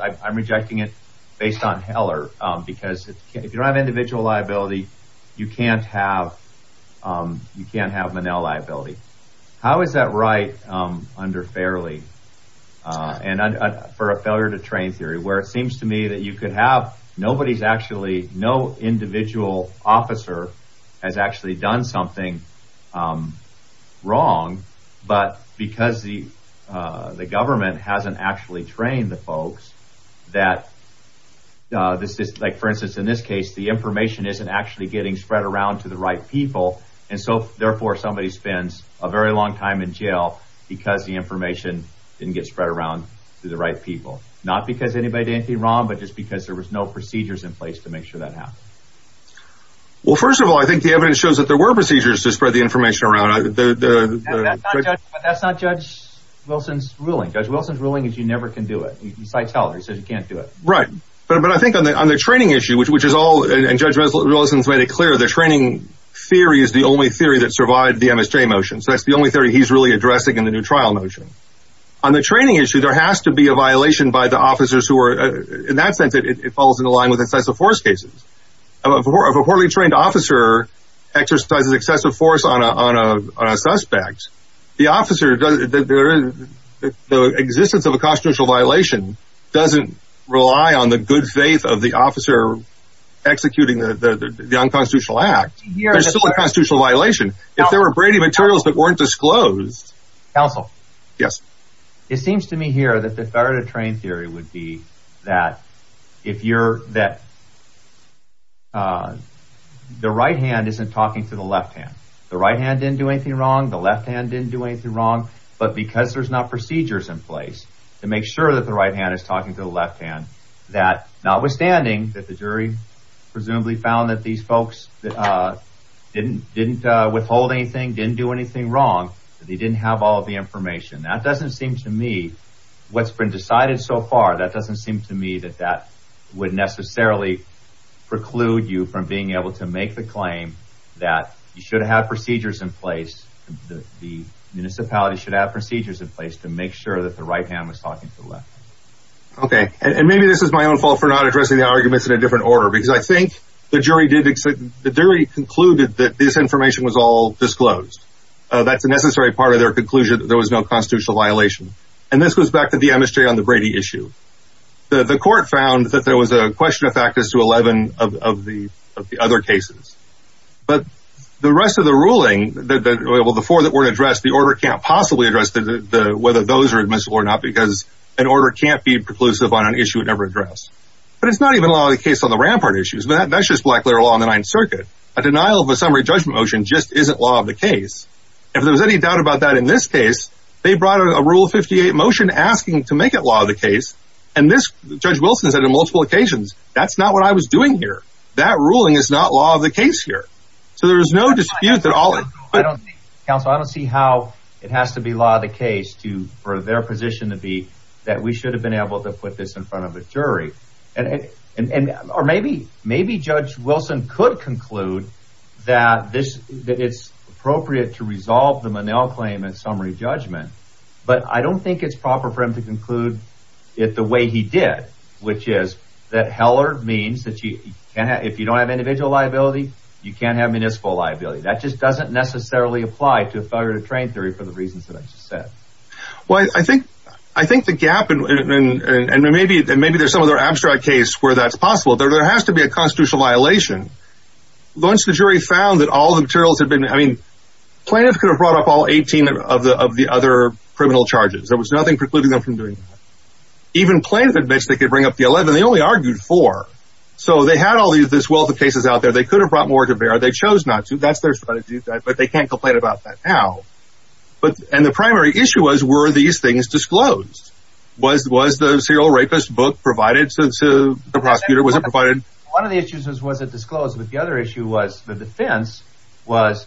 I'm rejecting it based on Heller because if you don't have individual liability, you can't have, you can't have Monell liability. How is that right? Under fairly and for a failure to train theory, where it seems to me that you could have, nobody's actually, no individual officer has actually done something wrong, but because the, the government hasn't actually trained the folks that this is like, for instance, in this case, the information isn't actually getting spread around to the right people. And so therefore somebody spends a very long time in jail because the information didn't get spread around to the right people. Not because anybody did anything wrong, but just because there was no procedures in place to make sure that happened. Well, first of all, I think the evidence shows that there were procedures to spread the information around. That's not judge Wilson's ruling. Judge Wilson's ruling is you never can do it. He cites Heller. He says you can't do it. Right. But I think on the, on the training issue, which, which is all, and judge Wilson's made it clear, the training theory is the only theory that survived the MSJ motion. So that's the only theory he's really addressing in the new trial motion. On the training issue, there has to be a violation by the officers who are, in that sense, it falls into line with excessive force cases of a poorly trained officer exercises excessive force on a, on a, on a suspect. The officer does the, the, the existence of a constitutional violation doesn't rely on the good faith of the officer executing the, the, the, the unconstitutional act. There's still a constitutional violation. If there were Brady materials that weren't disclosed. Counsel. Yes. It seems to me here that the better to train theory would be that if you're that the right hand isn't talking to the left hand, the right hand didn't do anything wrong. The left hand didn't do anything wrong, but because there's not procedures in place to make sure that the right hand is talking to the left hand, that notwithstanding that the jury presumably found that these folks that didn't, didn't withhold anything, didn't do anything wrong, they didn't have all of the information that doesn't seem to me what's been decided so far. That doesn't seem to me that that would necessarily preclude you from being able to make the claim that you should have procedures in place. The municipality should have procedures in place to make sure that the right hand was talking to the left. Okay. And maybe this is my own fault for not addressing the arguments in a different order, because I think the jury did. The jury concluded that this information was all disclosed. That's a necessary part of their conclusion. There was no constitutional violation. And this goes back to the MSJ on the Brady issue. The court found that there was a question of factors to 11 of the, of the other cases, but the rest of the ruling, the four that weren't addressed, the order can't possibly address the, whether those are admissible or not because an order can't be preclusive on an issue it never addressed, but it's not even a lot of the case on the rampart issues, but that's just black letter law on the ninth circuit. A denial of a summary judgment motion just isn't law of the case. If there was any doubt about that in this case, they brought out a rule 58 motion asking to make it law of the case. And this judge Wilson has had a multiple occasions. That's not what I was doing here. That ruling is not law of the case here. So there was no dispute that all. I don't think council, I don't see how it has to be law of the case to, for their position to be that we should have been able to put this in front of a jury and, and, and, or maybe, maybe judge Wilson could conclude that this, that it's appropriate to resolve the Monell claim and summary judgment. But I don't think it's proper for him to conclude it the way he did, which is that Heller means that you can, if you don't have individual liability, you can't have municipal liability. That just doesn't necessarily apply to a failure to train theory for the reasons that I just said. Well, I think, I think the gap and maybe, and maybe there's some of their abstract case where that's possible there. There has to be a constitutional violation. Once the jury found that all the materials had been, I mean, plaintiff could have brought up all 18 of the, of the other criminal charges. There was nothing precluding them from doing that. Even plaintiff admits they could bring up the 11. They only argued for, so they had all these, this wealth of cases out there. They could have brought more to bear. They chose not to that's their strategy, but they can't complain about that now. But, and the primary issue was, were these things disclosed? Was, was the serial rapist book provided since the prosecutor wasn't provided? One of the issues was, was it disclosed with the other issue was the defense was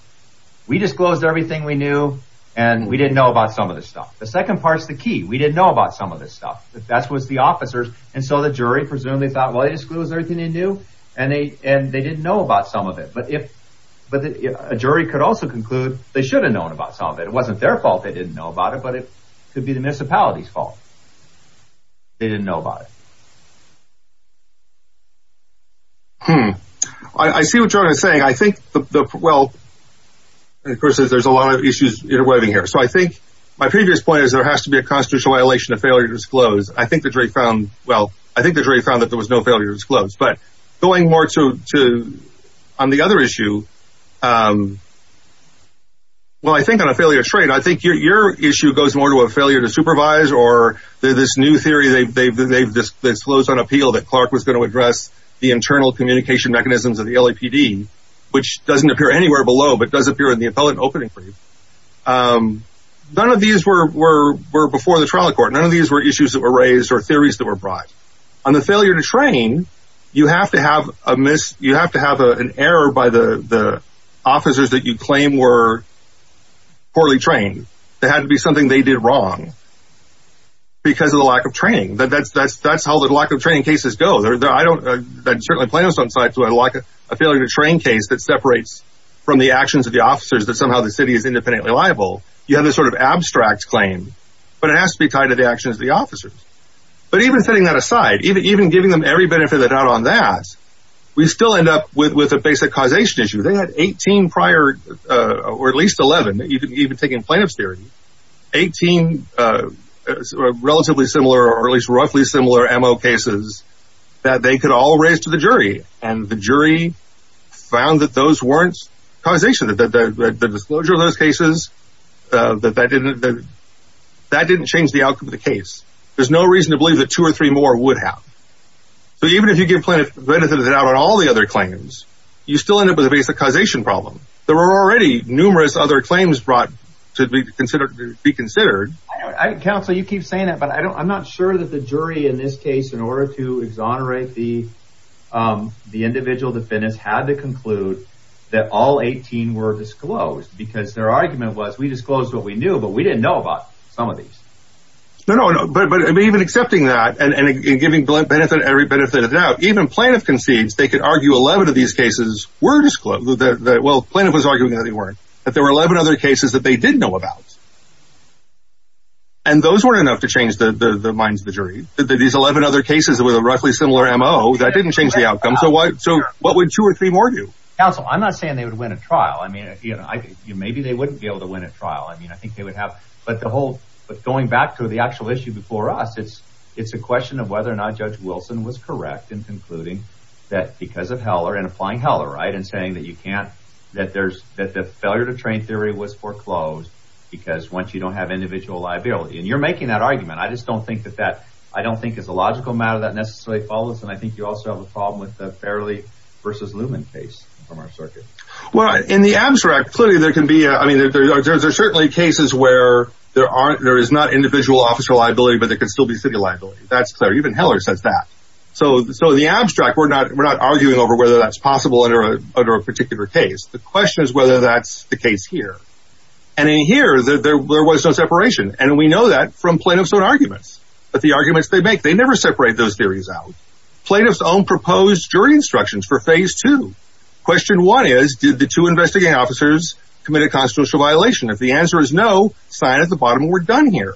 we disclosed everything we knew and we didn't know about some of this stuff. The second part's the key. We didn't know about some of this stuff. That's, was the officers. And so the jury presumably thought, well, they disclosed everything they knew and they, and they didn't know about some of it. But if, but a jury could also conclude they should have known about some of it. It wasn't their fault. They didn't know about it, but it could be the municipality's fault. They didn't know about it. Hmm. I see what you're saying. I think the, well, and of course there's a lot of issues interweaving here. So I think my previous point is there has to be a constitutional violation of failure to disclose. I think the jury found, well, I think the jury found that there was no failure to disclose, but going more to, to on the other issue. Um, well, I think on a failure to trade, you know, I think your, your issue goes more to a failure to supervise or this new theory. They've, they've, they've disclosed on appeal that Clark was going to address the internal communication mechanisms of the LAPD, which doesn't appear anywhere below, but does appear in the appellate opening for you. Um, none of these were, were, were before the trial court. None of these were issues that were raised or theories that were brought on the failure to train. You have to have a miss. You have to have a, an error by the, the officers that you claim were poorly trained. That had to be something they did wrong because of the lack of training that that's, that's, that's how the lack of training cases go there. I don't, uh, that certainly plans on sites where I like a failure to train case that separates from the actions of the officers that somehow the city is independently liable. You have this sort of abstract claim, but it has to be tied to the actions of the officers. But even setting that aside, even, even giving them every benefit of the doubt on that, we still end up with, with a basic causation issue. They had 18 prior, uh, or at least 11. You can even take in plaintiff's theory, 18, uh, relatively similar, or at least roughly similar MO cases that they could all raise to the jury. And the jury found that those weren't causation, that, that the disclosure of those cases, uh, that that didn't, that didn't change the outcome of the case. There's no reason to believe that two or three more would have. So even if you give plaintiff benefit of the doubt on all the other claims, you still end up with a basic causation problem. There were already numerous other claims brought to be considered, be considered. I counsel, you keep saying that, but I don't, I'm not sure that the jury in this case, in order to exonerate the, um, the individual defendants had to conclude that all 18 were disclosed because their argument was, we disclosed what we knew, but we didn't know about some of these. No, no, no, but, but even accepting that and giving blunt benefit, every benefit of doubt, even plaintiff concedes they could argue 11 of these cases were disclosed. Well, plaintiff was arguing that they weren't, that there were 11 other cases that they didn't know about. And those weren't enough to change the, the, the minds of the jury that these 11 other cases that were the roughly similar M.O. that didn't change the outcome. So what, so what would two or three more do? Counsel, I'm not saying they would win a trial. I mean, you know, maybe they wouldn't be able to win a trial. I mean, I think they would have, but the whole, but going back to the actual issue before us, it's, it's a question of whether or not judge Wilson was correct in concluding that because of Heller and applying Heller, right. And saying that you can't, that there's, that the failure to train theory was foreclosed because once you don't have individual liability and you're making that argument, I just don't think that that, I don't think it's a logical matter that necessarily follows. And I think you also have a problem with the fairly versus Lumen case from our circuit. Well, in the abstract, clearly there can be a, I mean, there's, there's certainly cases where there aren't, there is not individual officer liability, but there can still be city liability. That's clear. Even Heller says that. So, so the abstract, we're not, we're not arguing over whether that's possible under a, under a particular case. The question is whether that's the case here. And in here that there, there was no separation. And we know that from plaintiff's own arguments, but the arguments they make, they never separate those theories out. Plaintiff's own proposed jury instructions for phase two. Question one is, did the two investigating officers committed constitutional violation? If the answer is no sign at the bottom, we're done here.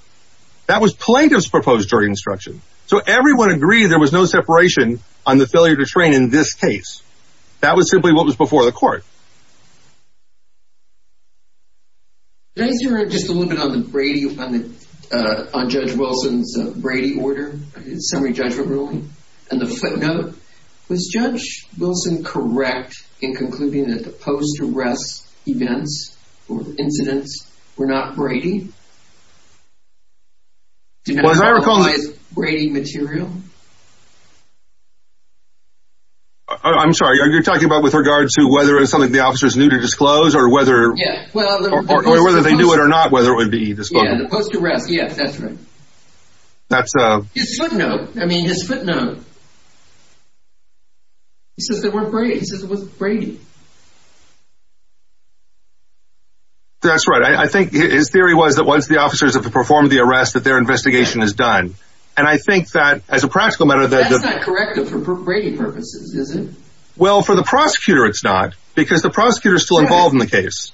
That was plaintiff's proposed jury instruction. So everyone agreed. There was no separation on the failure to train in this case. That was simply what was before the court. Just a little bit on the Brady, on the, uh, on judge Wilson's Brady order, summary judgment ruling. And the footnote was judge Wilson. Correct. In concluding that the post arrest events or incidents were not Brady. Was I recalling Brady material? I'm sorry. Are you talking about with regards to whether it was something the officers knew to disclose or whether, or whether they knew it or not, whether it would be the post arrest. Yes, that's right. That's a footnote. I mean, his footnote. He says they weren't Brady. He says it wasn't Brady. That's right. I think his theory was that once the officers have performed the arrest that their investigation is done. And I think that as a practical matter, that's not correct for Brady purposes, is it? Well, for the prosecutor, it's not because the prosecutor is still involved in the case,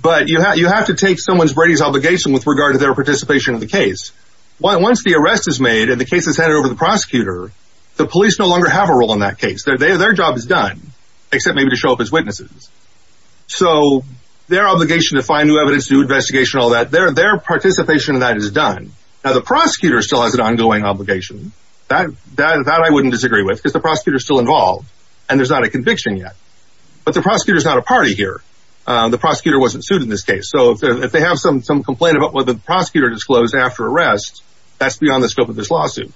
but you have, you have to take someone's Brady's obligation with regard to their participation in the case. Once the arrest is made and the case is handed over to the prosecutor, the police no longer have a role in that case. Their, their job is done except maybe to show up as witnesses. So their obligation to find new evidence, new investigation, all that, their, their participation in that is done. Now the prosecutor still has an ongoing obligation. That, that, that I wouldn't disagree with because the prosecutor is still involved and there's not a conviction yet, but the prosecutor is not a party here. The prosecutor wasn't sued in this case. So if they have some, some complaint about what the prosecutor disclosed after arrest, that's beyond the scope of this lawsuit.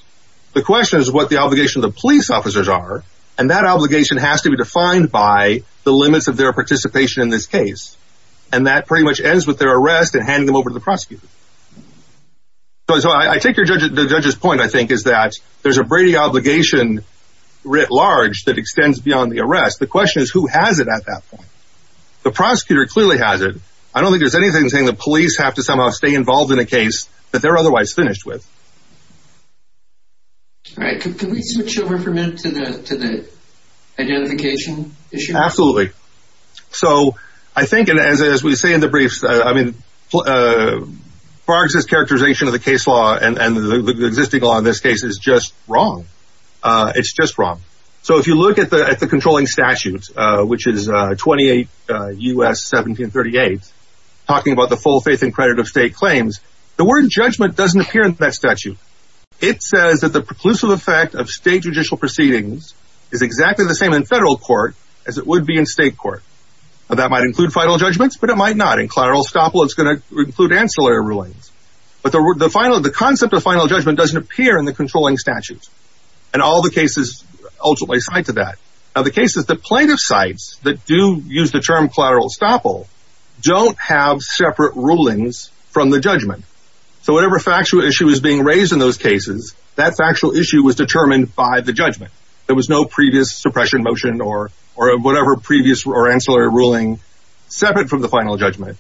The question is what the obligation of the police officers are. And that obligation has to be defined by the limits of their participation in this case. And that pretty much ends with their arrest and handing them over to the prosecutor. So, so I take your judge, the judge's point I think is that there's a Brady obligation writ large that extends beyond the arrest. The question is who has it at that point? The prosecutor clearly has it. I don't think there's anything saying the police have to somehow stay involved in a case that they're otherwise finished with. Right. Can we switch over for a minute to the, to the identification issue? Absolutely. So I think, and as, as we say in the briefs, I mean, uh, Barks is characterization of the case law and, and the existing law in this case is just wrong. Uh, it's just wrong. So if you look at the, at the controlling statutes, uh, which is, uh, 28, uh, us 1738 talking about the full faith and credit of state claims, the word judgment doesn't appear in that statute. It says that the preclusive effect of state judicial proceedings is exactly the same in federal court as it would be in state court. And that might include final judgments, but it might not in collateral stop. Well, it's going to include ancillary rulings, but the word, the final, the concept of final judgment doesn't appear in the controlling statute and all the cases ultimately side to that. Now the case is the plaintiff sites that do use the term collateral stop. All don't have separate rulings from the judgment. So whatever factual issue is being raised in those cases, that's actual issue was determined by the judgment. There was no previous suppression motion or, or whatever previous or ancillary ruling separate from the final judgment.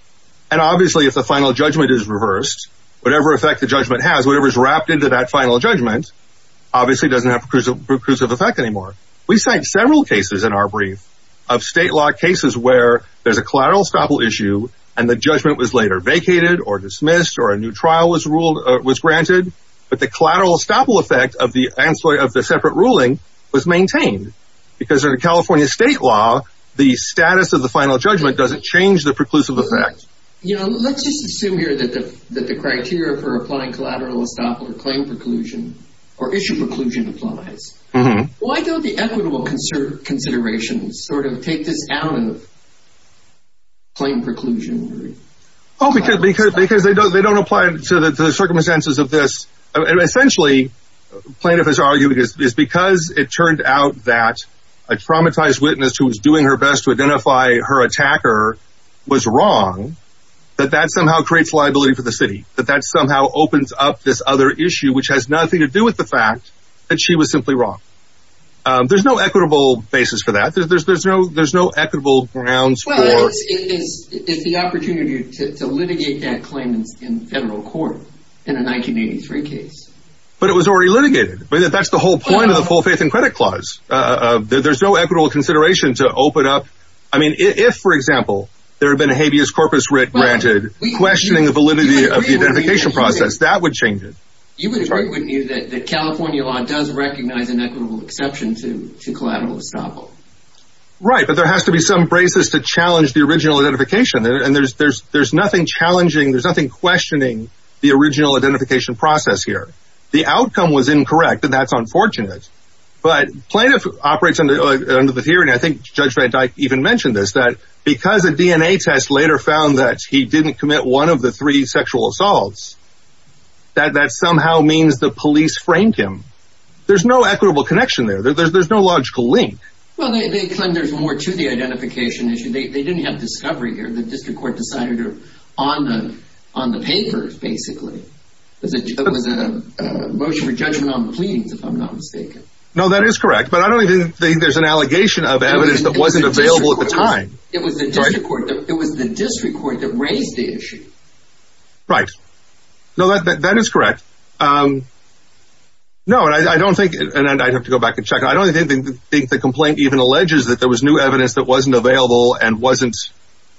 And obviously if the final judgment is reversed, whatever effect the judgment has, whatever is wrapped into that final judgment obviously doesn't have recursive effect anymore. We cite several cases in our brief of state law cases where there's a collateral stopper issue and the judgment was later vacated or dismissed or a new trial was ruled or was granted, but the collateral stopper effect of the ancillary of the separate ruling was maintained because of the California state law, the status of the final judgment doesn't change the preclusive effect. You know, let's just assume here that the, that the criteria for applying collateral stop or claim preclusion or issue preclusion applies. Why don't the equitable conservative considerations sort of take this down and claim preclusion? Oh, because, because, because they don't, they don't apply to the circumstances of this. Essentially plaintiff has argued is because it turned out that a traumatized witness who was doing her best to identify her attacker was wrong, that that somehow creates liability for the city, that that somehow opens up this other issue, which has nothing to do with the fact that she was simply wrong. There's no equitable basis for that. There's, there's, there's no, there's no equitable grounds. It's the opportunity to litigate that claim in federal court in a 1983 case, but it was already litigated, but that's the whole point of the full faith and credit clause. There's no equitable consideration to open up. I mean, if, for example, there had been a habeas corpus writ granted questioning the validity of the identification process, that would change it. You would agree with me that the California law does recognize an equitable exception to collateral stop. Right. But there has to be some braces to challenge the original identification. And there's, there's, there's nothing challenging. There's nothing questioning the original identification process here. The outcome was incorrect and that's unfortunate, but plaintiff operates under the theory. And I think judge van Dyck even mentioned this, that because of DNA tests later found that he didn't commit one of the three sexual assaults, that that somehow means the police framed him. There's no equitable connection there. There's no logical link. Well, they, they claim there's more to the identification issue. They didn't have discovery here. The district court decided on the, on the papers, basically. It was a motion for judgment on the pleadings, if I'm not mistaken. No, that is correct. But I don't think there's an allegation of evidence that wasn't available at the time. It was the district court. It was the district court that raised the issue. Right. No, that, that, that is correct. No, I don't think, and I'd have to go back and check. I don't think the complaint even alleges that there was new evidence that wasn't available and wasn't,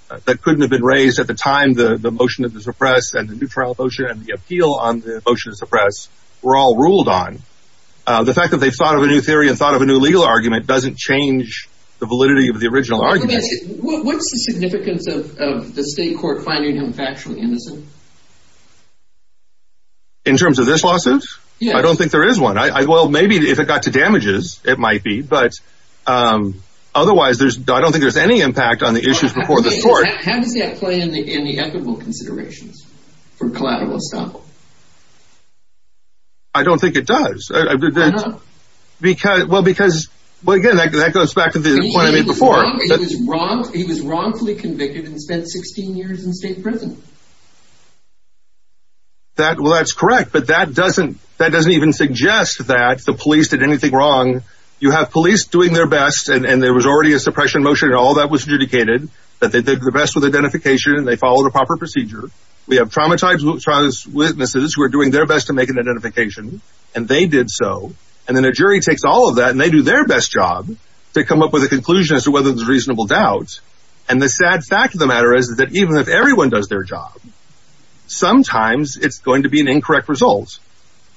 that couldn't have been raised at the time. The motion of the suppress and the new trial motion and the appeal on the motion to suppress were all ruled on. The fact that they've thought of a new theory and thought of a new legal argument doesn't change the validity of the original argument. What's the significance of the state court finding him factually innocent? In terms of this lawsuit? Yeah. I don't think there is one. Well, maybe if it got to damages, it might be. But otherwise, there's, I don't think there's any impact on the issues before the court. How does that play in the equitable considerations for collateral establishment? I don't think it does. Why not? Because, well, because, well, again, that goes back to the point I made before. He was wrongfully convicted and spent 16 years in state prison. That, well, that's correct, but that doesn't, that doesn't even suggest that the police did anything wrong. You have police doing their best and there was already a suppression motion and all that was adjudicated. But they did the best with identification and they followed a proper procedure. We have traumatized witnesses who are doing their best to make an identification and they did so. And then a jury takes all of that and they do their best job to come up with a conclusion as to whether there's reasonable doubt. And the sad fact of the matter is that even if everyone does their job, sometimes it's going to be an incorrect result.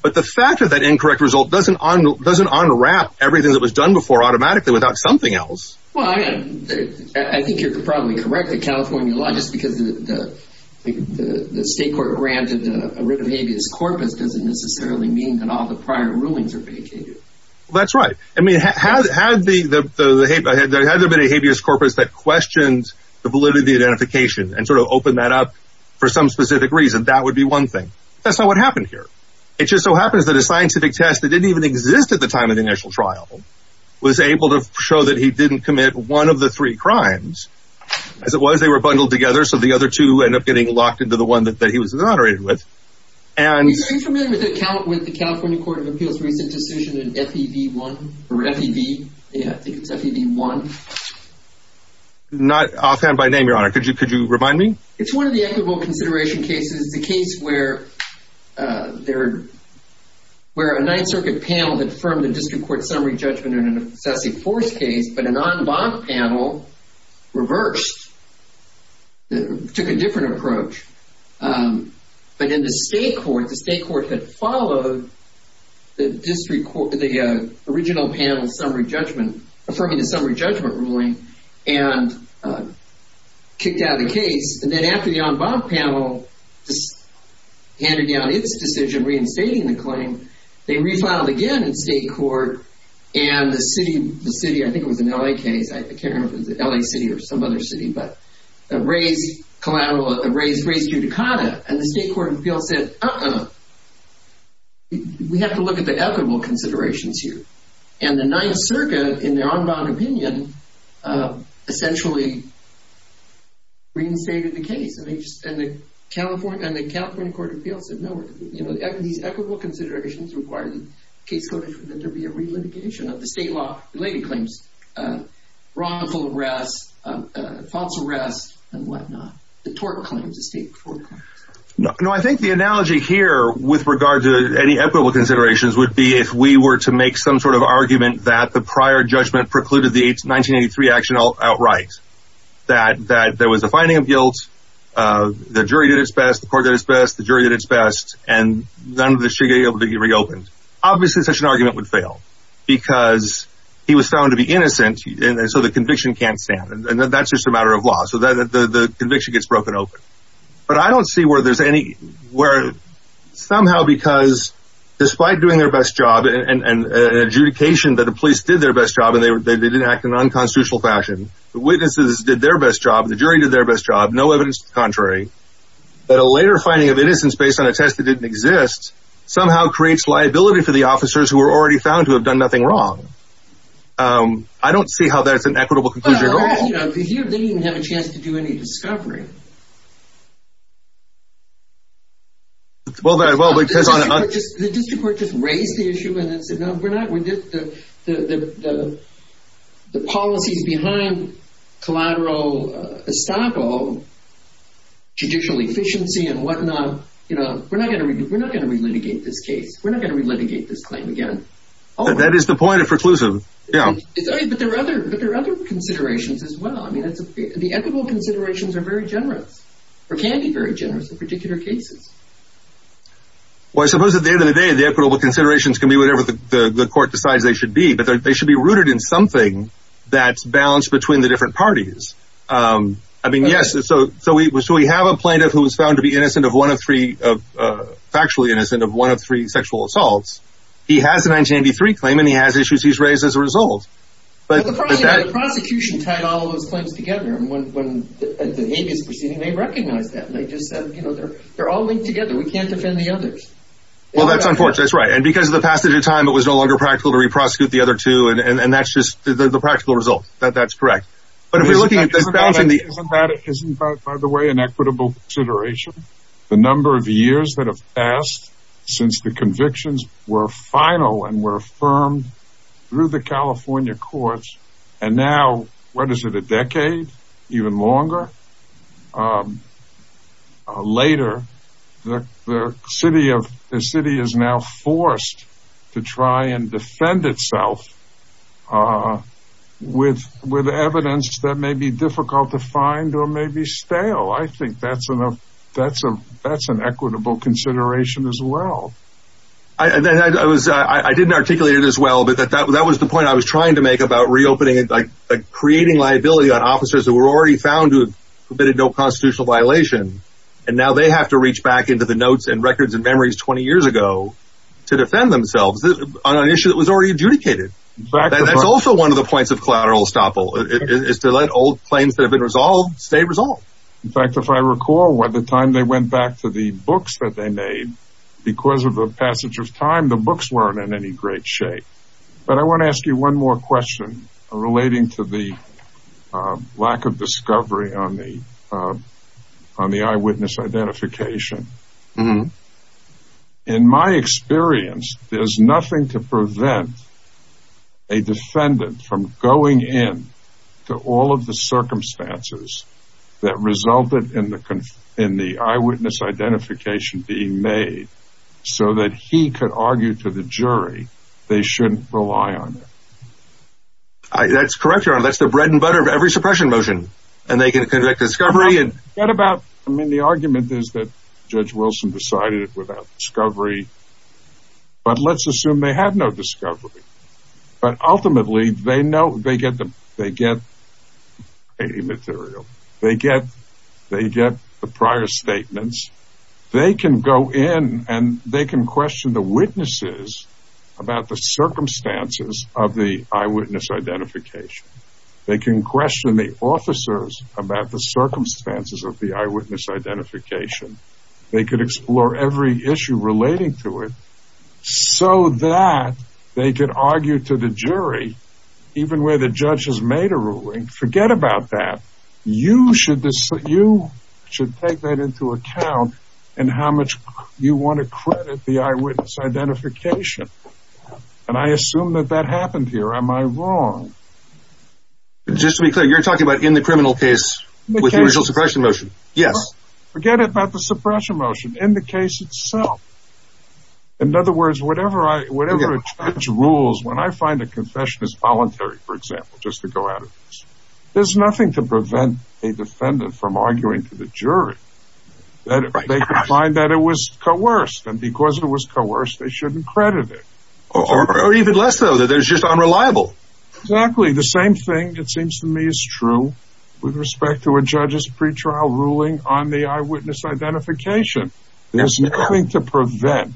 But the fact of that incorrect result doesn't unwrap everything that was done before automatically without something else. Well, I think you're probably correct that California law, just because the state court granted a writ of habeas corpus doesn't necessarily mean that all the prior rulings are vacated. That's right. I mean, had there been a habeas corpus that questioned the validity of the identification and sort of opened that up for some specific reason, that would be one thing. That's not what happened here. It just so happens that a scientific test that didn't even exist at the time of the initial trial was able to show that he didn't commit one of the three crimes. As it was, they were bundled together so the other two end up getting locked into the one that he was exonerated with. Are you familiar with the California Court of Appeals recent decision in FEV1? Or FEV? Yeah, I think it's FEV1. Not offhand by name, Your Honor. Could you remind me? It's one of the equitable consideration cases. It's a case where a Ninth Circuit panel had affirmed the district court summary judgment in an obsessive force case, but a non-bond panel reversed, took a different approach. But in the state court, the state court had followed the district court, the original panel's summary judgment, affirming the summary judgment ruling and kicked out of the case. And then after the non-bond panel handed down its decision reinstating the claim, they refiled again in state court and the city, I think it was an L.A. case. I can't remember if it was an L.A. city or some other city, but raised collateral, raised judicata. And the state court of appeals said, uh-uh, we have to look at the equitable considerations here. And the Ninth Circuit, in their on-bond opinion, essentially reinstated the case. And the California Court of Appeals said, no, these equitable considerations require the case for there to be a relitigation of the state law-related claims, wrongful arrest, false arrest, and whatnot. The tort claims, the state court claims. No, I think the analogy here with regard to any equitable considerations would be if we were to make some sort of argument that the prior judgment precluded the 1983 action outright, that there was a finding of guilt, the jury did its best, the court did its best, the jury did its best, and none of this should be able to be reopened. Obviously, such an argument would fail. Because he was found to be innocent, and so the conviction can't stand. And that's just a matter of law. So the conviction gets broken open. But I don't see where there's any, where somehow because, despite doing their best job and adjudication that the police did their best job and they didn't act in an unconstitutional fashion, the witnesses did their best job, the jury did their best job, no evidence to the contrary, that a later finding of innocence based on a test that didn't exist somehow creates liability for the officers who were already found to have done nothing wrong. I don't see how that's an equitable conclusion at all. Well, you know, they didn't even have a chance to do any discovery. Well, because on a... The district court just raised the issue and then said, no, we're not going to, the policies behind collateral estoppel, judicial efficiency and whatnot, you know, we're not going to, we're not going to relitigate this case. We're not going to relitigate this claim again. That is the point of preclusive. Yeah. But there are other considerations as well. I mean, the equitable considerations are very generous or can be very generous in particular cases. Well, I suppose at the end of the day, the equitable considerations can be whatever the court decides they should be, but they should be rooted in something that's balanced between the different parties. I mean, yes. So we have a plaintiff who was found to be innocent of one of three, factually innocent of one of three sexual assaults. He has a 1983 claim and he has issues he's raised as a result. But the prosecution tied all of those claims together and when the habeas proceeding, they recognized that. They just said, you know, they're all linked together. We can't defend the others. Well, that's unfortunate. That's right. And because of the passage of time, it was no longer practical to re-prosecute the other two and that's just the practical result. That's correct. Isn't that, by the way, an equitable consideration? The number of years that have passed since the convictions were final and were affirmed through the California courts and now, what is it, a decade? Even longer? Later, the city is now forced to try and defend itself with evidence that may be difficult to find or may be stale. I think that's an equitable consideration as well. I didn't articulate it as well, but that was the point I was trying to make about reopening and creating liability on officers who were already found who committed no constitutional violation and now they have to reach back into the notes and records and memories 20 years ago to defend themselves on an issue that was already adjudicated. That's also one of the points of collateral estoppel is to let old claims that have been resolved stay resolved. In fact, if I recall, by the time they went back to the books that they made, because of the passage of time, the books weren't in any great shape. But I want to ask you one more question relating to the lack of discovery on the eyewitness identification. In my experience, there's nothing to prevent a defendant from going in to all of the circumstances that resulted in the eyewitness identification being made so that he could argue to the jury they shouldn't rely on it. That's correct, Your Honor. That's the bread and butter of every suppression motion. And they can conduct discovery. I mean, the argument is that Judge Wilson decided without discovery. But let's assume they had no discovery. But ultimately, they get the material. They get the prior statements. They can go in and they can question the witnesses about the circumstances of the eyewitness identification. They can question the officers about the circumstances of the eyewitness identification. They could explore every issue relating to it so that they could argue to the jury, even where the judge has made a ruling, forget about that. You should take that into account in how much you want to credit the eyewitness identification. And I assume that that happened here. Am I wrong? Just to be clear, you're talking about in the criminal case with the original suppression motion? Yes. Forget about the suppression motion. In the case itself. In other words, whatever a judge rules, when I find a confession is voluntary, for example, just to go out of this, there's nothing to prevent a defendant from arguing to the jury. They could find that it was coerced. And because it was coerced, they shouldn't credit it. Or even less, though, that it's just unreliable. Exactly. The same thing, it seems to me, is true with respect to a judge's pretrial ruling on the eyewitness identification. There's nothing to prevent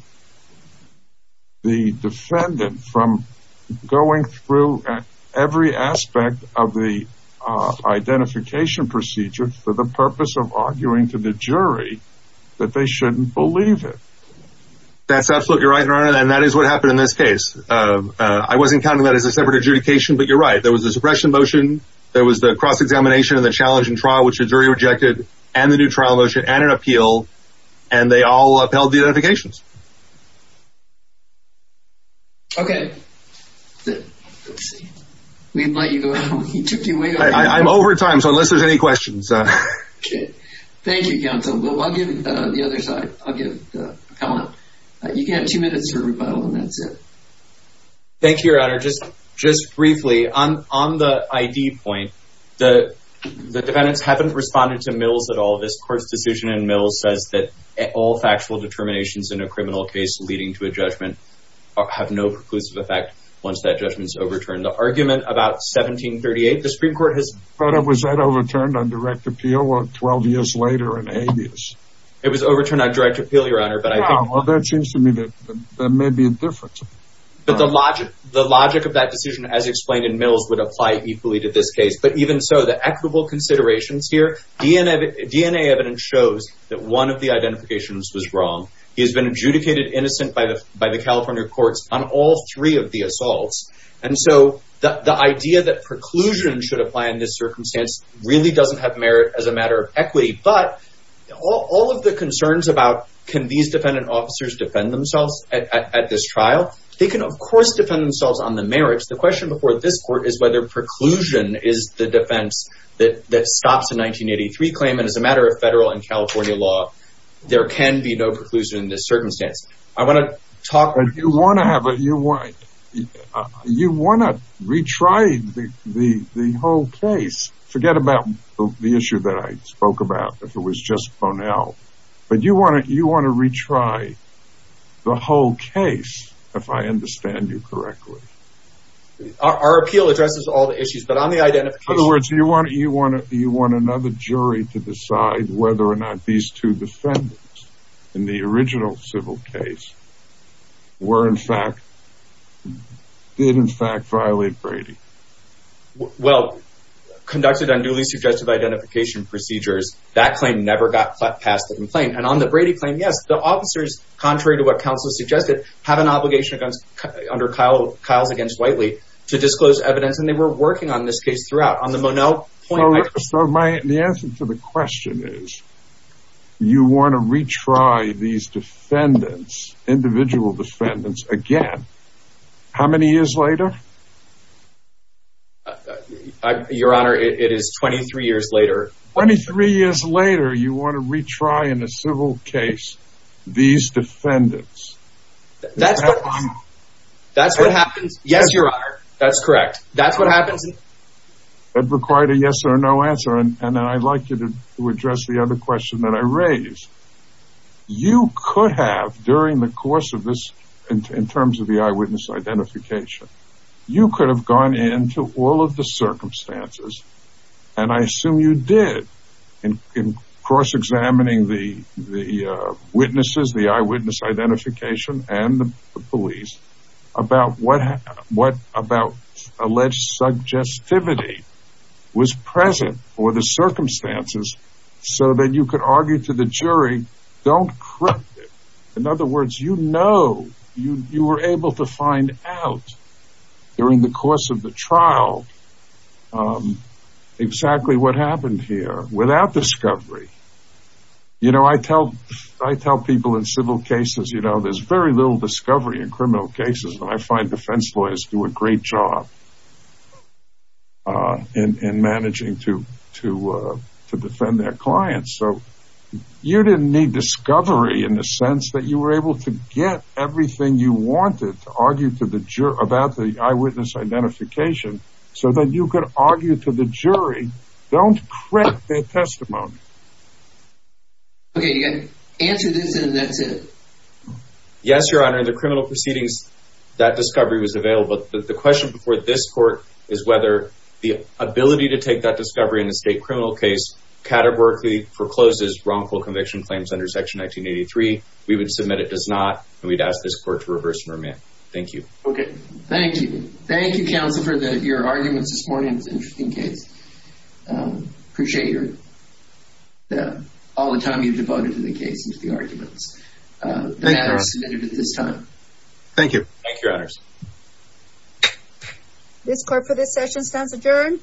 the defendant from going through every aspect of the identification procedure for the purpose of arguing to the jury that they shouldn't believe it. That's absolutely right, Your Honor, and that is what happened in this case. I wasn't counting that as a separate adjudication, but you're right. There was the suppression motion, there was the cross-examination and the challenging trial, which the jury rejected, and the new trial motion and an appeal, and they all upheld the identifications. Okay. Let's see. We let you go. You took your weight off. I'm over time, so unless there's any questions... Okay. Thank you, Counsel. I'll give the other side. I'll give... Come on up. You can have two minutes for rebuttal, and that's it. Thank you, Your Honor. Just briefly, on the ID point, the defendants haven't responded to Mills at all. This Court's decision in Mills says that all factual determinations in a criminal case leading to a judgment have no preclusive effect once that judgment's overturned. The argument about 1738, the Supreme Court has... It was overturned on direct appeal, Your Honor, but I think... Well, that seems to me that there may be a difference. But the logic of that decision, as explained in Mills, would apply equally to this case. But even so, the equitable considerations here, DNA evidence shows that one of the identifications was wrong. He has been adjudicated innocent by the California courts on all three of the assaults, and so the idea that preclusion should apply in this circumstance really doesn't have merit as a matter of equity. But all of the concerns about can these defendant officers defend themselves at this trial, they can, of course, defend themselves on the merits. The question before this Court is whether preclusion is the defense that stops a 1983 claim, and as a matter of federal and California law, there can be no preclusion in this circumstance. I want to talk... But you want to have a... You want to retry the whole case. Forget about the issue that I spoke about, if it was just Ponell. But you want to retry the whole case, if I understand you correctly. Our appeal addresses all the issues, but on the identification... In other words, you want another jury to decide whether or not these two defendants, in the original civil case, were in fact... did in fact violate Brady. Well, conducted on newly suggested identification procedures, that claim never got passed the complaint. And on the Brady claim, yes. The officers, contrary to what counsel suggested, have an obligation under Kyle's against Whiteley to disclose evidence, and they were working on this case throughout. On the Ponell point... So the answer to the question is you want to retry these defendants, individual defendants, again. How many years later? Your Honor, it is 23 years later. 23 years later, you want to retry in a civil case these defendants. That's what... That's what happens... Yes, Your Honor. That's correct. That's what happens... That required a yes or no answer. And I'd like you to address the other question that I raised. You could have, during the course of this, in terms of the eyewitness identification, you could have gone into all of the circumstances, and I assume you did, in cross-examining the witnesses, the eyewitness identification, and the police, about what alleged suggestivity was present for the circumstances so that you could argue to the jury, don't correct it. In other words, you know, you were able to find out during the course of the trial exactly what happened here without discovery. You know, I tell people in civil cases, you know, there's very little discovery in criminal cases, and I find defense lawyers do a great job in managing to defend their clients. So you didn't need discovery in the sense that you were able to get everything you wanted to argue about the eyewitness identification so that you could argue to the jury, don't correct their testimony. Okay, you got to answer this, and that's it. Yes, Your Honor, in the criminal proceedings, that discovery was available, but the question before this court is whether the ability to take that discovery in a state criminal case categorically forecloses wrongful conviction claims under Section 1983. We would submit it does not, and we'd ask this court to reverse and remand. Thank you. Okay, thank you. Thank you, counsel, for your arguments this morning. It was an interesting case. Appreciate all the time you've devoted to the case and to the arguments. Thank you, Your Honor. The matter is submitted at this time. Thank you. Thank you, Your Honors. This court for this session stands adjourned.